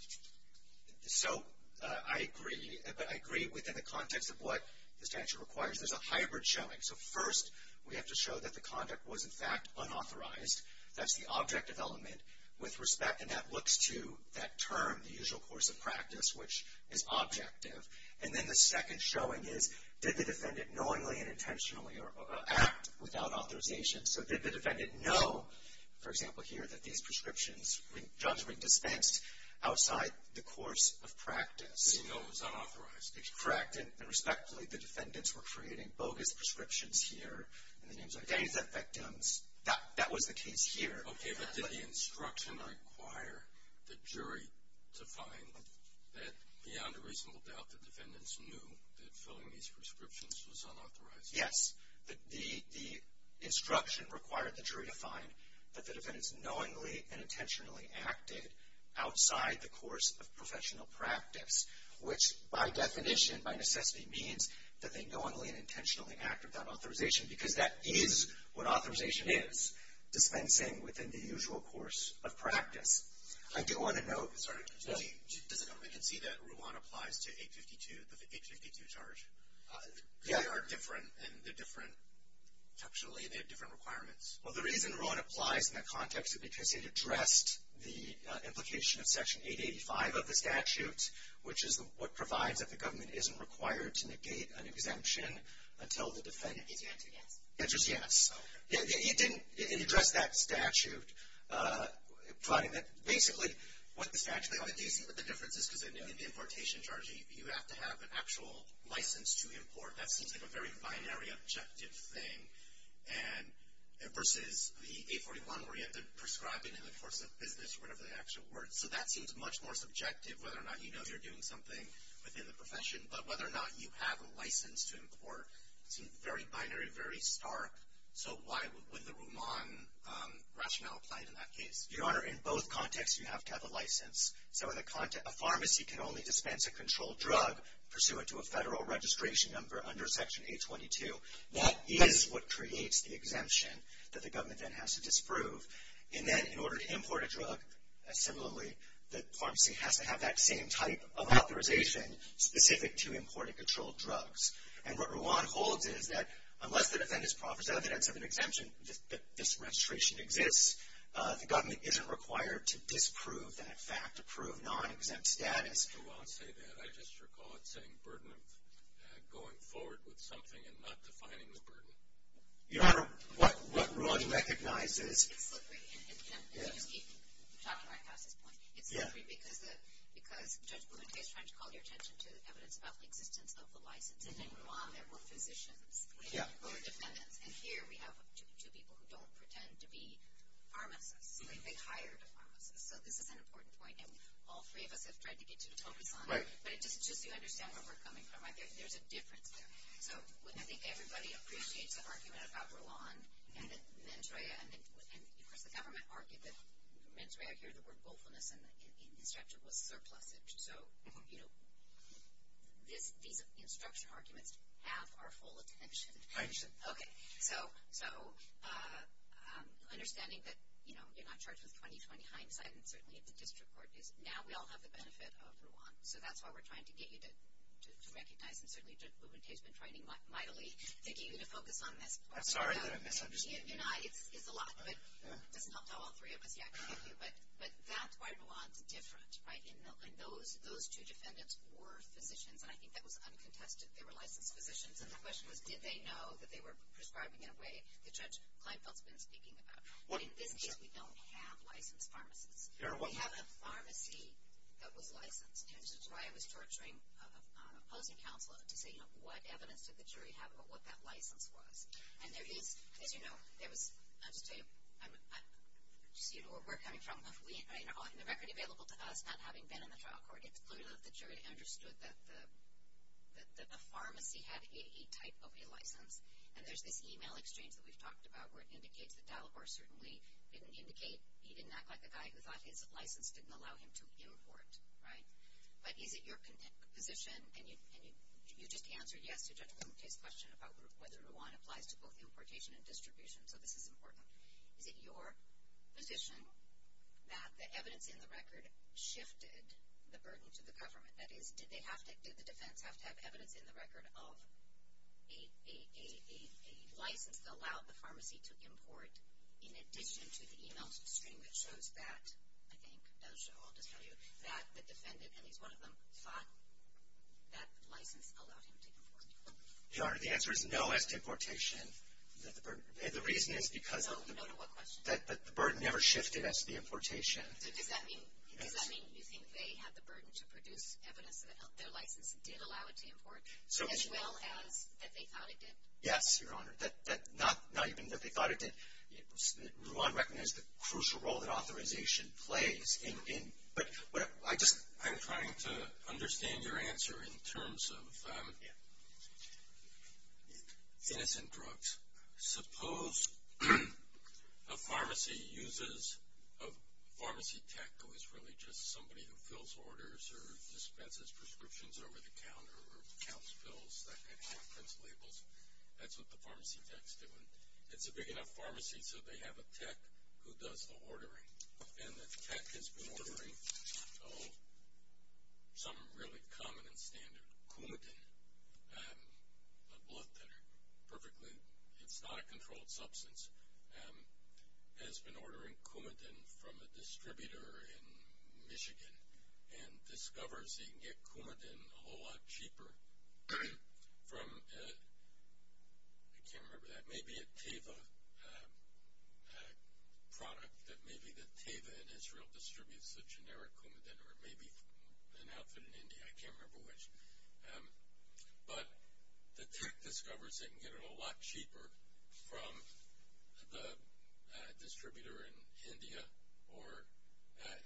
So I agree within the context of what the statute requires. There's a hybrid showing. So first we have to show that the conduct was, in fact, unauthorized. That's the objective element with respect, and that looks to that term, the usual course of practice, which is objective. And then the second showing is, did the defendant knowingly and intentionally act without authorization? So did the defendant know, for example, here, that these prescriptions does make sense outside the course of practice? So you know it was unauthorized. Correct. And respectfully, the defendants were creating bogus prescriptions here. That was the case here. Okay. But did the instruction require the jury to find that beyond a reasonable doubt the defendants knew that filling these prescriptions was unauthorized? Yes. The instruction required the jury to find that the defendants knowingly and intentionally acted outside the course of professional practice, which by definition by necessity means that they knowingly and intentionally acted without authorization, because that is what authorization is, the commencing within the usual course of practice. I do want to note, sorry, did the government concede that RUAN applies to 852, the 852 charge? Yeah. They are different, and they're different, actually they have different requirements. Well, the reason RUAN applies in that context is because it addressed the implication of Section 885 of the statute, which is what provides that the government isn't required to negate an exemption until the defendant can get it. Yes. Okay. It addressed that statute. Basically, what the statute is, this is an importation charge. You have to have an actual license to import. That seems like a very binary objective thing, and versus the 841 where you have to prescribe it in the course of business or whatever the actual word. So that seems much more subjective, whether or not you know you're doing something within the profession, but whether or not you have a license to import seems very binary, very stark. So why would the RUAN rationale apply to that case? Your Honor, in both contexts, you have to have a license. So in the context of pharmacy, you can only dispense a controlled drug pursuant to a federal registration number under Section 822. That is what creates the exemption that the government then has to disprove. And then in order to import a drug, similarly, the pharmacy has to have that same type of authorization specific to import and control drugs. And what RUAN holds is that unless the defendant is promised evidence of an exemption, if this registration exists, the government isn't required to disprove and, in fact, approve non-exempt status. RUAN said that. I just recall it saying burden of going forward with something and not defining the burden. Your Honor, what RUAN recognizes is. It's just that I have this point. Because Judge Blumenthal is trying to call your attention to the evidence about the existence of the license, and then RUAN, that we're physicians, right? We're defendants. And here we have two people who don't pretend to be pharmacists. When you say hired pharmacists, that's an important point. And all three of us have tried to get you to focus on that. But just to understand where we're coming from, I think there's a difference there. Well, I think everybody appreciates the argument about RUAN. And I think for the government argument, I hear the word willfulness and the injunction was surplusage. So, you know, these big instruction arguments have our full attention. I see. Okay. So understanding that, you know, you're not charged with 20-20 hindsight, and certainly at the district court, is now we all have the benefit of RUAN. So that's why we're trying to get you to recognize, and certainly district law enforcement training mightily, maybe you need to focus on that. I'm sorry. It's a lot. But I'll tell all three of us, yeah. But that's quite a lot of difference, right? And those two defendants were submissioned, but I think that was uncontested. They were licensed physicians. The question was, did they know that they were prescribing in a way the judge might not have been speaking about? It's because we don't have license pharmacists. We have a pharmacy that was licensed. And so that's why I was torturing public counsel to get, you know, what evidence did the jury have about what that license was. And there is, you know, there was, I should say, we're coming from a fleet, right, and the record available to us not having been in the trial court, it's clear that the jury understood that the pharmacy had a type of a license. And there's this e-mail exchange that we've talked about where it indicates that Dalvor certainly didn't indicate he didn't act like the guy who got his license, didn't allow him to report, right? But is it your position, and you just answered, yes, the gentleman's question about whether Rouen applies to both importation and distribution, so this is important. Is it your position that the evidence in the record shifted the burden to the government? That is, did the defendants have to have evidence in the record of a license that allowed the pharmacy to import in addition to the e-mail exchange that I'll just tell you, that the defendant, at least one of them, thought that license allowed him to import? Your Honor, the answer is no at importation. The reason is because the burden never shifted as to the importation. Does that mean you think they had the burden to produce evidence that their license did allow it to import as well as that they thought it did? Yes, Your Honor. Not even that they thought it did. Rouen recognized the crucial role that authorization plays. I'm trying to understand your answer in terms of innocent drugs. Suppose a pharmacy uses a pharmacy tech who is really just somebody who fills orders or dispenses prescriptions over the counter or counts bills and has labels. That's what the pharmacy tech is doing. It's a big enough pharmacy so they have a tech who does the ordering, and that tech has been ordering some really common and standard. Coumadin, a blood thinner, perfectly, it's not a controlled substance, has been ordering Coumadin from a distributor in Michigan and discovers he can get Coumadin a whole lot cheaper from, I can't remember, that may be a Teva product, but maybe the Teva in Israel distributes the generic Coumadin, or maybe an output in India, I can't remember which. But the tech discovers they can get it a lot cheaper from the distributor in India or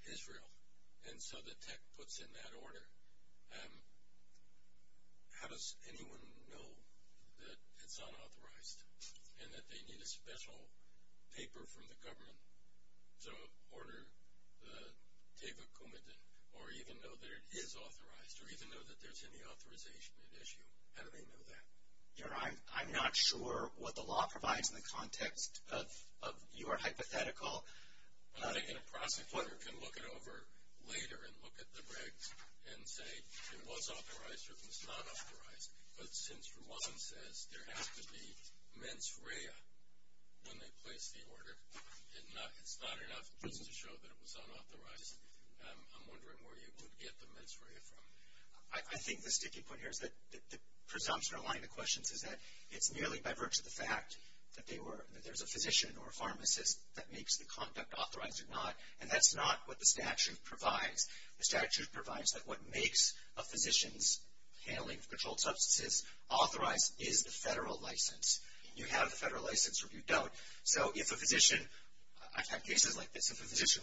Israel, and so the tech puts in that order. How does anyone know that it's unauthorized and that they need a special paper from the government to order the Teva Coumadin, or even know that it is authorized, or even know that there's any authorization issue? How do they know that? I'm not sure what the law provides in the context of your hypothetical. Well, I think a prosecutor can look it over later and look at the rig and say it was authorized or it was not authorized. But since Rouhan says there has to be mens rea when they place the order and it's not enough to show that it was unauthorized, I'm wondering where you would get the mens rea from. I think the sticky point here is that the presumption or line of questions is that it's merely by virtue of the fact that there's a physician or a pharmacist that makes the conduct authorized or not, and that's not what the statute provides. The statute provides that what makes a physician's handling of controlled substances authorized is the federal license. You have a federal license or you don't. So if a physician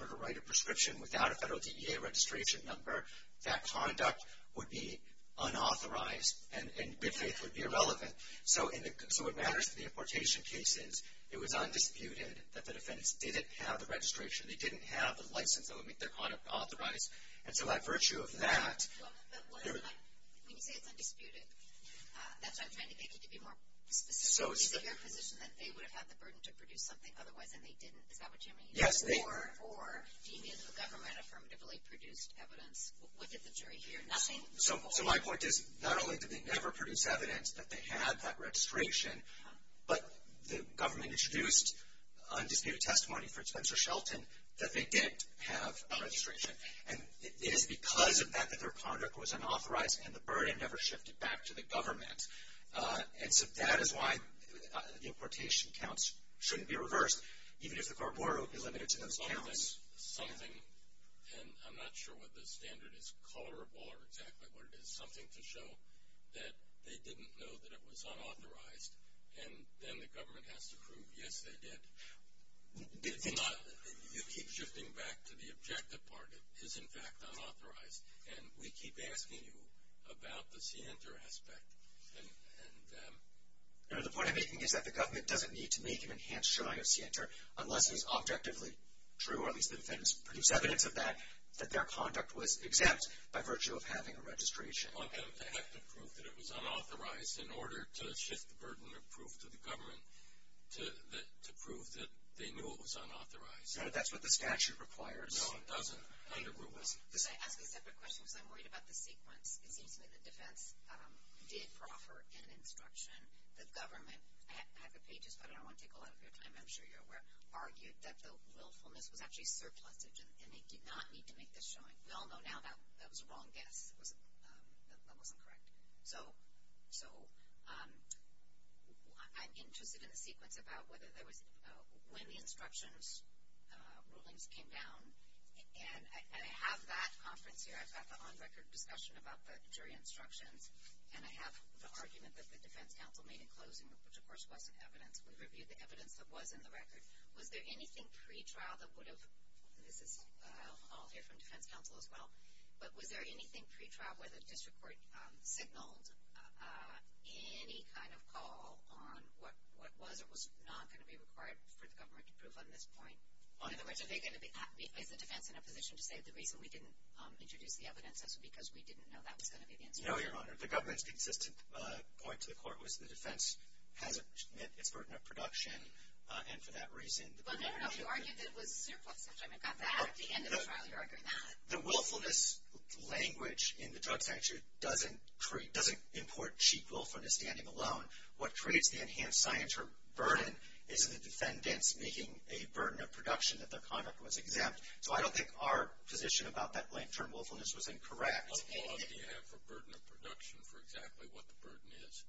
were to write a prescription without a federal DDA registration number, that conduct would be unauthorized and, in this case, would be irrelevant. So in the consumer matters and the importation cases, it was undisputed that the defense didn't have the registration, they didn't have the license that would make their conduct authorized. And so by virtue of that, there was not. When you say it's undisputed, that's what I'm trying to get you to be more specific on this and that they would have had the burden to produce something otherwise than they did in the competition. Yes, they did. Or the unions or government affirmatively produced evidence. What did the jury hear? Nothing. So my point is not only did they never produce evidence that they had that registration, but the government introduced undisputed testimony for Spencer Shelton that they did have a registration. And it is because of that that their conduct was unauthorized and the burden never shifted back to the government. And that is why the importation counts shouldn't be reversed, even if the court order would be limited to those counts. And I'm not sure what the standard is, color or exactly what it is. Something can show that they didn't know that it was unauthorized, and then the government has to prove, yes, they did. It's not that it keeps shifting back to the objective part. It is, in fact, unauthorized. And we keep asking you about the scienter aspect. The point I'm making is that the government doesn't need to make an enhanced unless it's objectively true, or at least it's evidence of that, that their conduct was exempt by virtue of having a registration. Well, they have to prove that it was unauthorized in order to shift the burden of proof to the government to prove that they knew it was unauthorized. No, that's what the statute requires. No, it doesn't. I have a question. So I'm wondering about the sequence in which the defense did proffer an instruction. The government had the pages, but I don't want to take a lot of your time. I'm sure you're aware, argued that the willfulness was actually surplusage, and they did not need to make this showing. We all know now that was a wrong guess. That's almost incorrect. So I'm interested in a sequence about when the instructions, rulings, came down. And I have that conference here. I've got the on-record discussion about the jury instructions, and I have the argument that the defense counsel made in closing, which, of course, was evidence. We reviewed the evidence that was in the record. Was there anything pre-trial that would have, and this is all different defense counsel as well, but was there anything pre-trial where there's been support, any kind of call on what was or was not going to be required for the government to prove on this point? In other words, are they going to be in a position to say the reason we didn't introduce the evidence was because we didn't know that was going to be in the record? No, Your Honor. The government's consistent point to the court was the defense had a burden of production, and for that reason the government had to argue that it was surplusage. I mean, not that. At the end of the trial, they're arguing not. The willfulness language in the drug statute doesn't import cheap willfulness standing alone. What creates the enhanced science or burden is the defendants making a burden of production that their conduct was exempt. So I don't think our position about that blank term willfulness was incorrect. But if you have a burden of production for exactly what the burden is.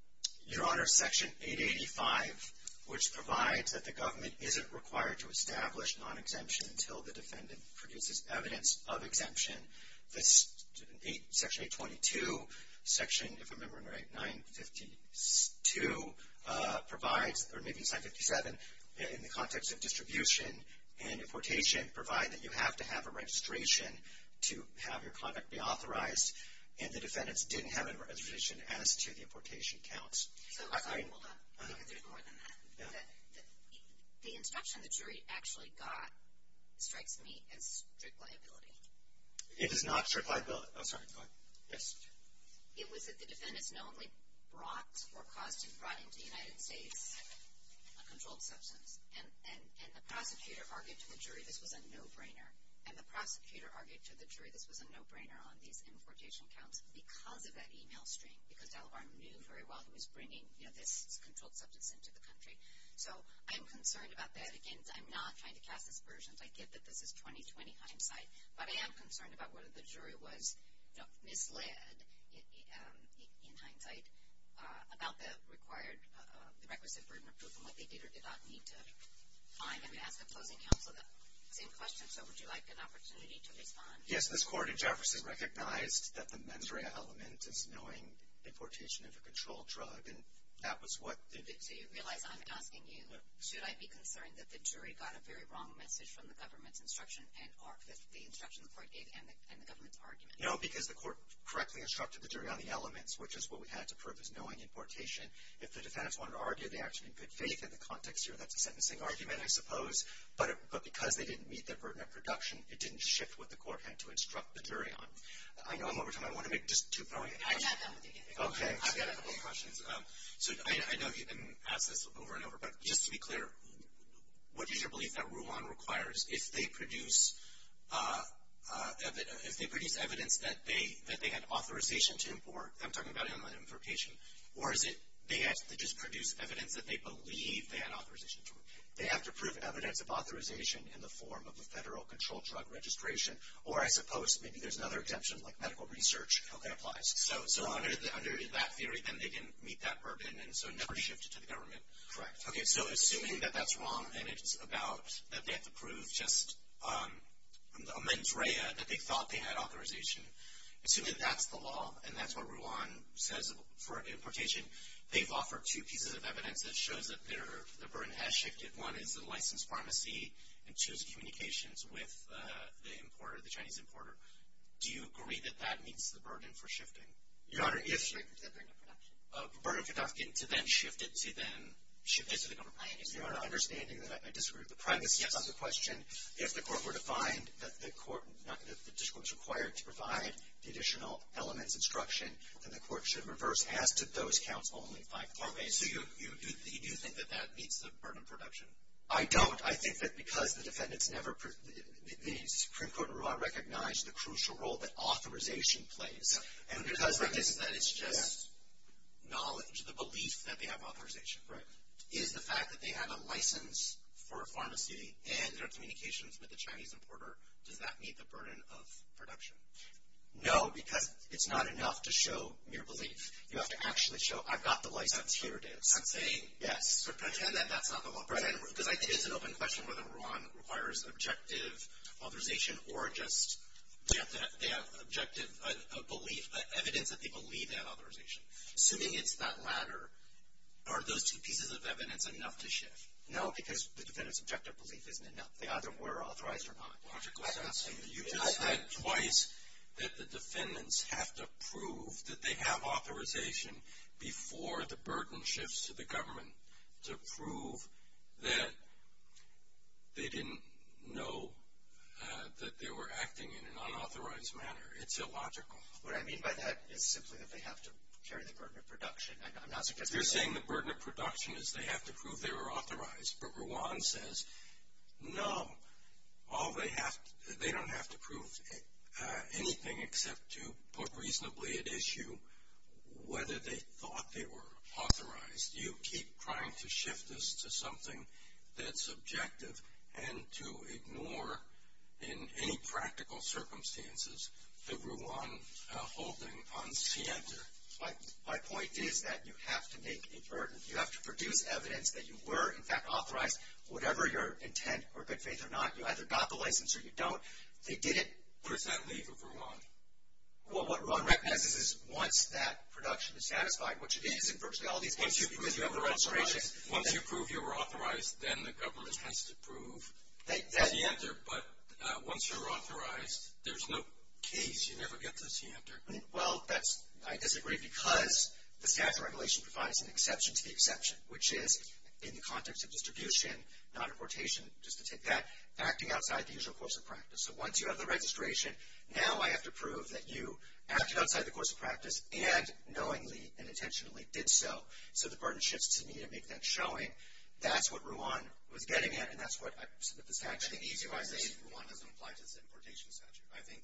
Your Honor, Section 885, which provides that the government isn't required to establish non-exemption until the defendant produces evidence of exemption, Section 822, Section, if I'm remembering right, 952 provides, or maybe 957, in the context of distribution and importation, provides that you have to have a registration to have your product be authorized, and the defendants didn't have a registration added to the importation counts. I don't think it's more than that. The instruction the jury actually got strikes me as strict liability. It is not strict liability. I'm sorry, go ahead. It was that the defendants not only brought or caused a crime to the United States, but had a controlled substance. And the prosecutor argued to the jury this was a no-brainer. And the prosecutor argued to the jury this was a no-brainer on these importation counts because of that e-mail stream, because Alabama knew very well who was bringing the controlled substance into the country. So I'm concerned about that. Again, I'm not trying to copy the versions. I get that this is 20-20 hindsight. But I am concerned about whether the jury was misled, in hindsight, about the required requisite room approval. I think either did not need to find and have the clothing count put up. Same question. So would you like an opportunity to respond? Yes, this court in Jefferson recognized that the mens rea element is knowing importation of a controlled drug, and that was what did it say. Really, I'm asking you, should I be concerned that the jury got a very wrong message from the government's instruction and argued that the instruction required data and the government's argument? No, because the court correctly instructed the jury on the elements, which is what we had to prove as knowing importation. If the defendants wanted to argue, they actually could say it in the context of the sentencing argument, I suppose. But because they didn't meet that burden of production, it didn't shift what the court had to instruct the jury on. I know I'm over time. I want to make just two points. I've got time at the end. Okay. I've got a couple questions. So I know you've been at this over and over, but just to be clear, what is your belief that RUAN requires if they produce evidence that they have authorization to import? I'm talking about inline importation. Or is it they have to just produce evidence that they believe they have authorization to import? They have to prove evidence of authorization in the form of a federal controlled drug registration, or as opposed to maybe there's another exemption, like medical research, how that applies. So under that theory, then they didn't meet that burden, and so nobody shifted to the government. Correct. Okay, so assuming that that's wrong, and it's about that they have to prove just a mens rea, that they thought they had authorization, assuming that's the law, and that's what RUAN says for importation, they've offered two pieces of evidence that shows that the burden has shifted. One is the licensed pharmacy and two is communications with the importer, the Chinese importer. Do you agree that that meets the burden for shifting? Your Honor, yes, it does. The burden of conducting to then shift it to the government. Your Honor, understanding that I disagreed with the privacy, I have another question. If the court were to find that the court is not going to be disclosed required to provide the additional elements instruction, then the court should reverse add to those counts only. Okay, so you think that that meets the burden of production? I don't. I think that because the defendant's never recognized the crucial role that authorization plays. And because it's just knowledge, the belief that they have authorization, is the fact that they have a license for a pharmacy and their communications with the Chinese importer, does that meet the burden of production? No, because it's not enough to show mere belief. You have to actually show I've got the license, here it is. I'm saying that that's not the one. The question is whether RUAN requires objective authorization or just that they have objective belief, evidence that they believe they have authorization. Assuming it's that latter, are those two pieces of evidence enough to shift? No, because the defendant's objective belief isn't enough. They either were authorized or not. You just said twice that the defendants have to prove that they have authorization before the burden shifts to the government to prove that they didn't know that they were acting in an unauthorized manner. It's illogical. What I mean by that is simply that they have to share the burden of production. If you're saying the burden of production is they have to prove they were authorized, but RUAN says, no, they don't have to prove anything except to put reasonably at issue whether they thought they were authorized. Do you keep trying to shift this to something that's objective and to ignore in any practical circumstances the RUAN holding on SIENTA? My point is that you have to make a burden. You have to produce evidence that you were, in fact, authorized. Whatever your intent or if they say they're not, you either got the license or you don't, they did it presently to RUAN. Well, what RUAN recognizes is once that production is satisfied, which again is inversely. Once you prove you were authorized, then the government has to prove. That's the answer. But once you're authorized, there's no case. You never get the SIENTA. Well, I disagree because the TAG regulation provides an exception to the exception, which is in the context of distribution, not importation, acting outside the usual course of practice. So once you have the registration, now I have to prove that you acted outside the course of practice and knowingly and intentionally did so. So the burden shifts to me to make that showing. That's what RUAN was getting at. And that's what I said at the TAG meeting. I raised RUAN doesn't apply to the importation statute, I think.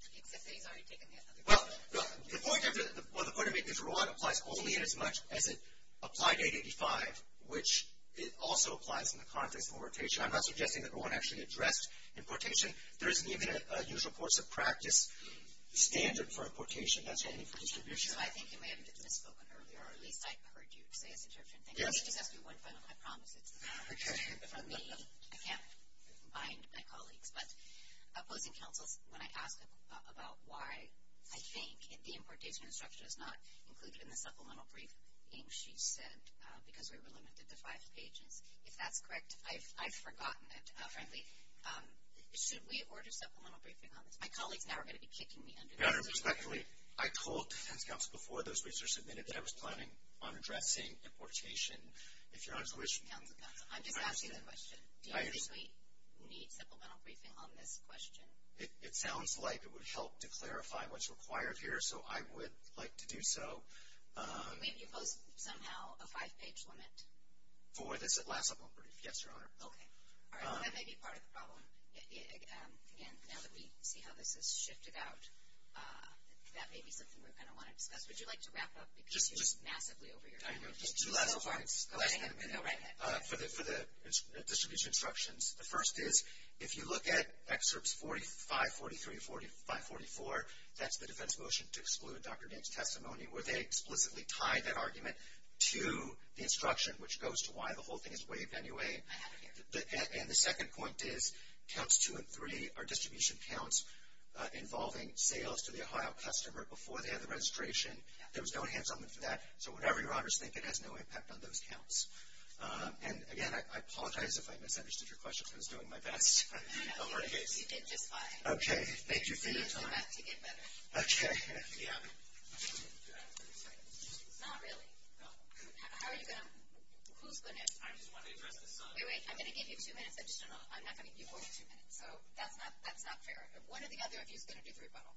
Well, the point I made is RUAN applies only as much as it applied to 885, which it also applies in the context of importation. I'm not suggesting that RUAN actually addressed importation. There isn't even a usual course of practice standard for importation. I think it may have been spoken of earlier. I heard you say it's an exception. I promise it's an exception for me. I can't find my colleagues. But it would be helpful when I ask them about why I think the importation instruction is not included in the supplemental brief, and she said because we were limited to five pages. Is that correct? I've forgotten it. My colleague is never going to be kicking me under the bus. Your Honor, respectfully, I told defense counsel before those researchers admitted that I was planning on addressing importation. If Your Honor's wish. No, I'm just asking a question. Do we need supplemental briefing on this question? It sounds like it would help to clarify what's required here, so I would like to do so. Maybe put somehow a five-page limit. Boy, that's a lot of work for you. Yes, Your Honor. Okay. All right, that may be part of the problem. Again, now that we see how this has shifted out, that may be something we're going to want to discuss. Would you like to wrap up? Because you've been massively over your time. I know. For the submission instructions, the first is, if you look at excerpts 45, 43, 45, 44, that's the defense motion to exclude Dr. Gaines' testimony, where they explicitly tie that argument to the instruction, which goes to why the whole thing is waived anyway. And the second point is, counts two and three are distribution counts involving sales to the Ohio customer before they have the registration. There was no hands-on with that, so whatever Your Honor is thinking has no impact on those counts. And, again, I apologize if I misunderstood your question. I was doing my best. Okay. Thank you for your time. Okay. Not really. How are you doing? Who's going to? Wait, wait. I'm going to give you two minutes additional. I'm not going to give you more than two minutes. So that's not fair. If one or the other of you is going to do very well.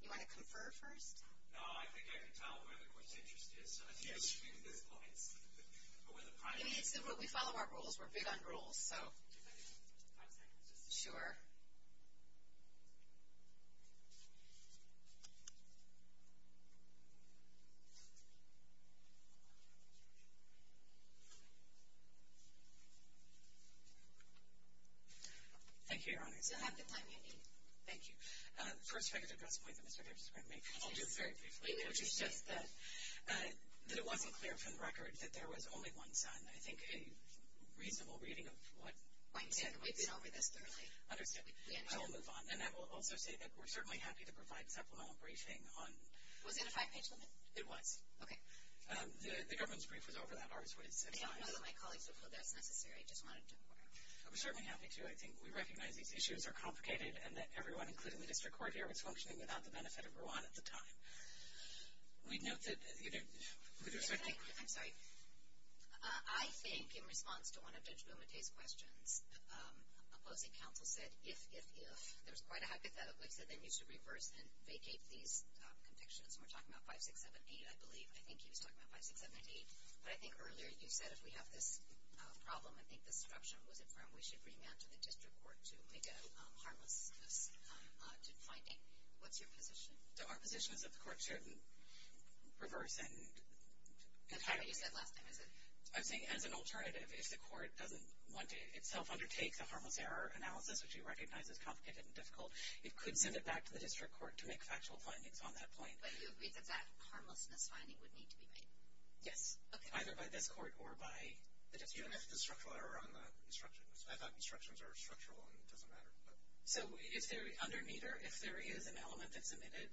Do you want to confer first? No, I think I can tell where the question is. We follow our rules. We're big on rules. So. Sure. Thank you, Your Honor. You'll have the time you need. Thank you. First, I just want to make a point. I'll do it very briefly. You said that it wasn't clear from the record that there was only one son. And I think a reasonable reading of what might have been over this early. And I will move on. And I will also say that we're certainly happy to provide supplemental briefing on. Was it a five-page limit? It was. Okay. The government's brief was over that hard. I don't know if my colleagues will put that in there. I just wanted to. I'm certainly happy to. I think we recognize these issues are complicated and that everyone, including me, that took part here was functioning without the benefit of Rwanda at the time. We know that. I'm sorry. I think in response to one of Judge Wilmot's questions, the opposing counsel said, if there's quite a hypothetical, then you should reverse and vacate these convictions. And we're talking about 5678, I believe. I think she was talking about 5678. But I think earlier, as you said, we have this problem. I think the corruption was affirmed. We should remand the district court to make a harmless decision. What's your position? So our position is that the court shouldn't reverse and vacate. How do you get lost in this? I think as an alternative, if the court doesn't want to itself undertake a harmless error analysis, which we recognize is complicated and difficult, it could send it back to the district court to make factual findings on that point. But you believe that that harmless enough finding would need to be made? Yes. Okay. Either by this court or by the district court. It's a structural error on the instructions. I thought instructions are structural. It doesn't matter. So if there is an element that's submitted,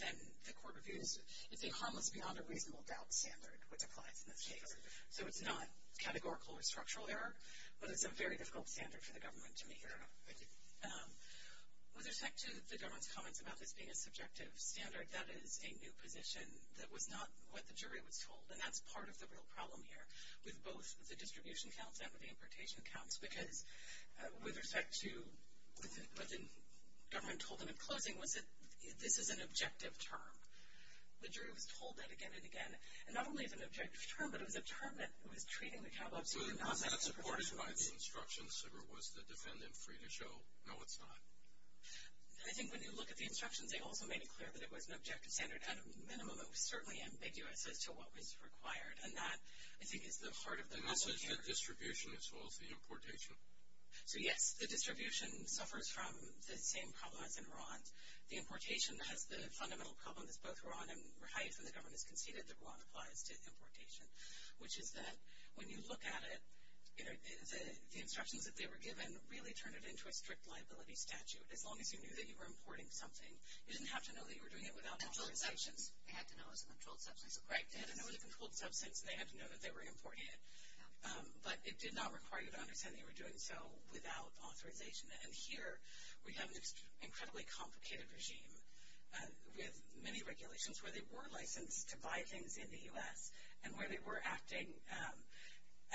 then the court reviews it. It's a harmless beyond a reasonable doubt standard, which applies in this case. So it's not categorical or structural error, but it's a very difficult standard for the government to make error on. With respect to the government's comments about this being a subjective standard, that is a new position. That was not what the jury was told. And that's part of the real problem here, with both the distribution counts and the importation counts. Because with respect to what the government told them in closing, this is an objective term. The jury was told that again and again. And not only is it an objective term, but it was a term that was treated in the catalogs. Was it not supported by the instructions, or was the defendant free to show, no, it's not? I think when you look at the instructions, they all made it clear that it was an objective standard at a minimum. It was certainly ambiguous as to what was required. And that, I think, is the heart of the message here. Is that distribution as well as the importation? So, yes. The distribution suffers from the same problem as in RON. The importation, that's the fundamental problem that's both RON and REIT and the government's conceded that RON applies to importation, which is that when you look at it, the instructions that they were given really turned it into a strict liability statute. As long as you knew that you were importing something, you didn't have to know that you were doing it without knowing the instructions. They had to know it was a controlled substance. Right. They had to know it was a controlled substance. They had to know that they were importing it. But it did not require you to understand that you were doing so without authorization. And here we have an incredibly complicated regime with many regulations where they were licensed to buy things in the U.S. and where they were acting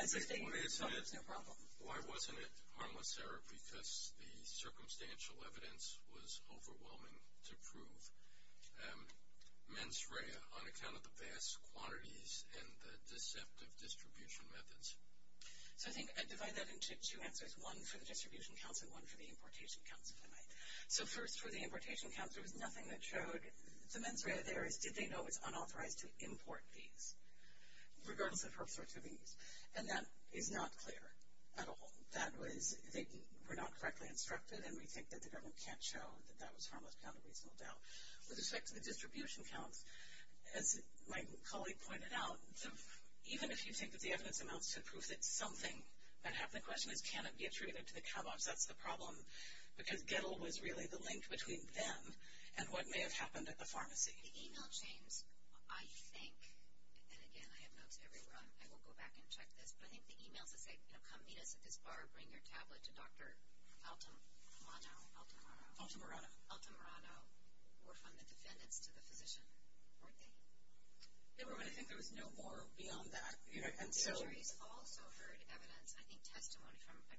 as if they knew there was no problem. Why wasn't it harmless, Sarah? Because the circumstantial evidence was overwhelming to prove mens rea on the set of distribution methods. I think I divided that into two answers, one for the distribution council and one for the importation council. So first for the importation council, there was nothing that showed the mens rea there, did they know it was unauthorized to import these, regardless of her pursuing these. And that is not clear at all. They were not correctly instructed, and we think the government can't show that that was harmless down to reasonable doubt. With respect to the distribution council, as my colleague pointed out, even if you take the evidence amounts to prove that it's something, that half the question is can it be attributed to the cowboys, that's the problem. Because Gettl was really the link between them and what may have happened at the pharmacy. The e-mail chain, I think, and again, I have notes everywhere, I will go back and check this. But I think the e-mail to say, come meet us at this bar, bring your tablet to Dr. Altamirano, or from the defendant to the physician. They were going to think there was no more beyond that. All of her evidence, I think, had to run from a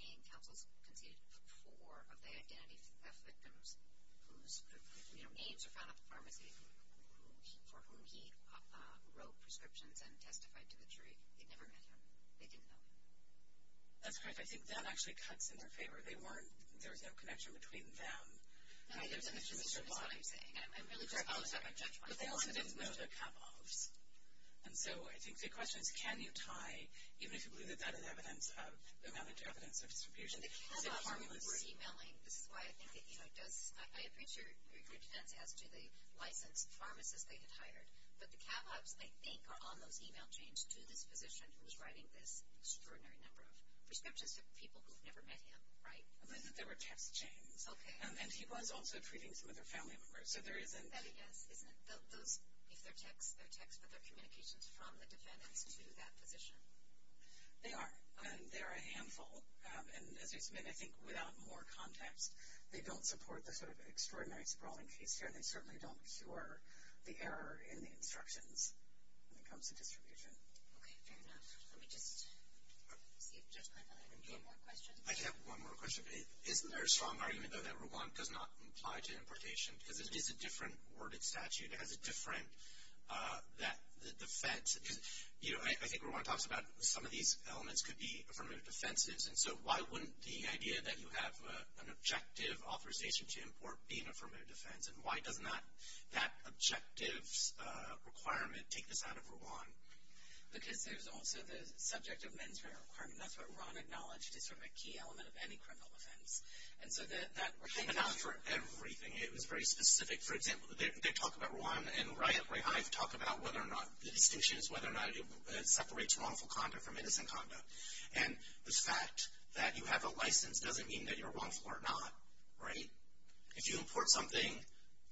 gang council who competed for a lay identity to test victims whose names are found at the pharmacy, for whom she wrote prescriptions and testified to the jury. They never met them. They didn't know them. That's correct. I think that actually cuts in their favor. There's no connection between them. And I hear the Mr. and Mr. Bly saying, I'm sorry, I'll check, I'll check, but they all ended up knowing they're cowboys. And so I think the question is, can you tie even if you lose a bit of evidence, the medical evidence of distribution, to the formula group? I appreciate your intent as to the life and pharmacists they hired, but the cowboys, I think, are on those e-mail chains to the physician who was writing this extraordinary number of prescriptions of people who've never met him, right? There were 10 chains. Okay. And he was also treating some of their family members. So there is an evidence. Yes. They'll move their text of the communications from the defendant to that physician. They are. They're a handful. And I think without more context, they don't support the sort of extraordinary sprawling case here. They certainly don't cure the error in the instructions when it comes to distribution. Okay. Fair enough. Let me get this. Just one more question. I just have one more question. Isn't there a strong argument, though, that Rwanda does not apply to importation? It's a different worded statute. It has a different defense. I think Rwanda talks about some of these elements could be affirmative defenses. And so why wouldn't the idea that you have an objective authorization to import be an affirmative defense? And why does not that objective requirement take this out of Rwanda? Because there's also the subject of mandatory requirement. That's what Ron acknowledged. It's sort of a key element of any criminal offense. And so that was coming out for everything. It was very specific. For example, they talk about Rwandan rights. I talk about whether or not the decisions, whether or not it separates wrongful conduct from innocent conduct. And the fact that you have a license doesn't mean that you're wrongful or not. Right? If you import something,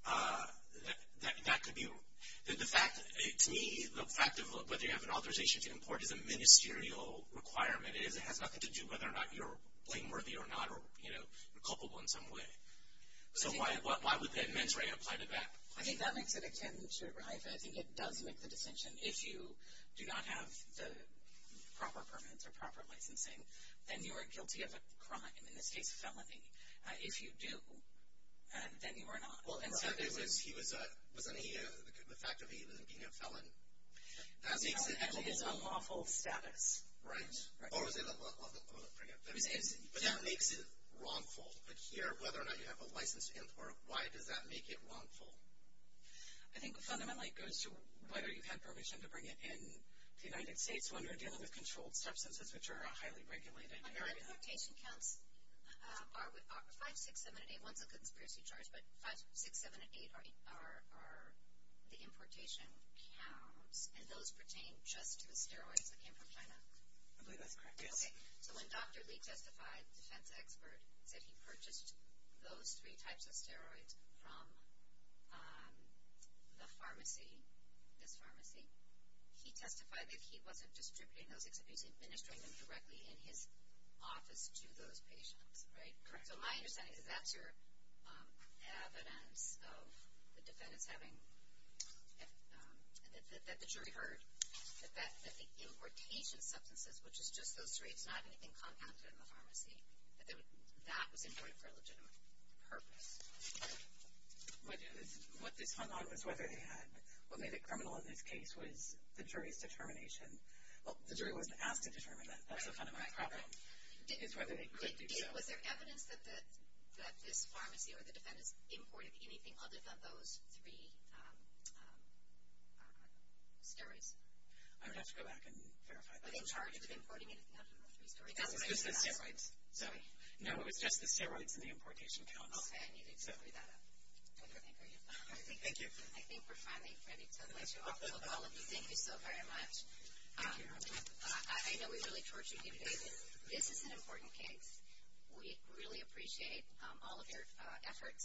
that could be wrong. To me, the fact that you have an authorization to import is a ministerial requirement. It has nothing to do whether or not you're blameworthy or not, or, you know, culpable in some way. So why would that mandatory apply to that? I mean, that makes it a candidature, right? I think it does make the detention. If you do not have the proper permits or proper licensing, then you are guilty of a crime, and it takes felony. If you do, then you are not. Well, and if he was going to eat it, the fact that he was going to eat a felon, that makes it actually a lawful status. Right. Or was it a lawful status? But that makes it wrongful. The fear of whether or not you have a license to import, why does that make it wrongful? I think fundamentally it goes to whether you have permission to bring it in to the United States when we're dealing with controlled substances which are highly regulated in America. You know, our patient counts are 5, 6, 7, and 8. One's a conspiracy charge, but 5, 6, 6, 7, and 8 are the importation count, and those pertain just to the steroids that came from China. Am I doing this correctly? Okay. So when Dr. Lee testified, a defense expert, that he purchased those three types of steroids from the pharmacy, that's pharmacy, he testified that he wasn't distributing those, that he was administering them directly in his office to those patients. Right? Correct. So my understanding is that's your evidence of the defendant having an incentive that the jury heard that that's an importation of substances, which is just those three. It's not anything compounded in the pharmacy, that it was not imported for a legitimate purpose. What this one office already had, what made it criminal in this case was the jury's determination. Well, the jury wasn't asked to determine that, but it was on the right property. It's whether it relates to you. Is there evidence that this pharmacy or the defendant imported anything other than those three steroids? I would have to go back and verify that. But in charge of the import, you mean it's not the three? No, it's just the steroids. No, it's just the steroids and the importation count. Okay. Thank you. I think we're finally ready for the next couple of questions. All of you, thank you so very much. I know we really tortured you today, but this is an important case. We really appreciate all of your effort.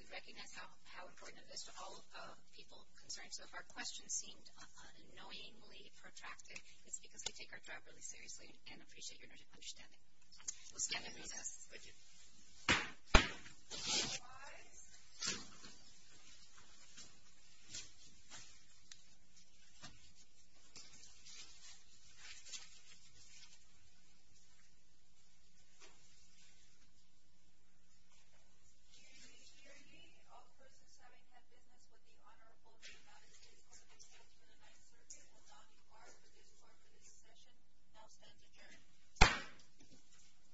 We recognize how important this is to all of people's concerns, because our questions seemed unknowingly protracted. If you could take our threat really seriously and appreciate your understanding. Thank you. Thank you. Thank you.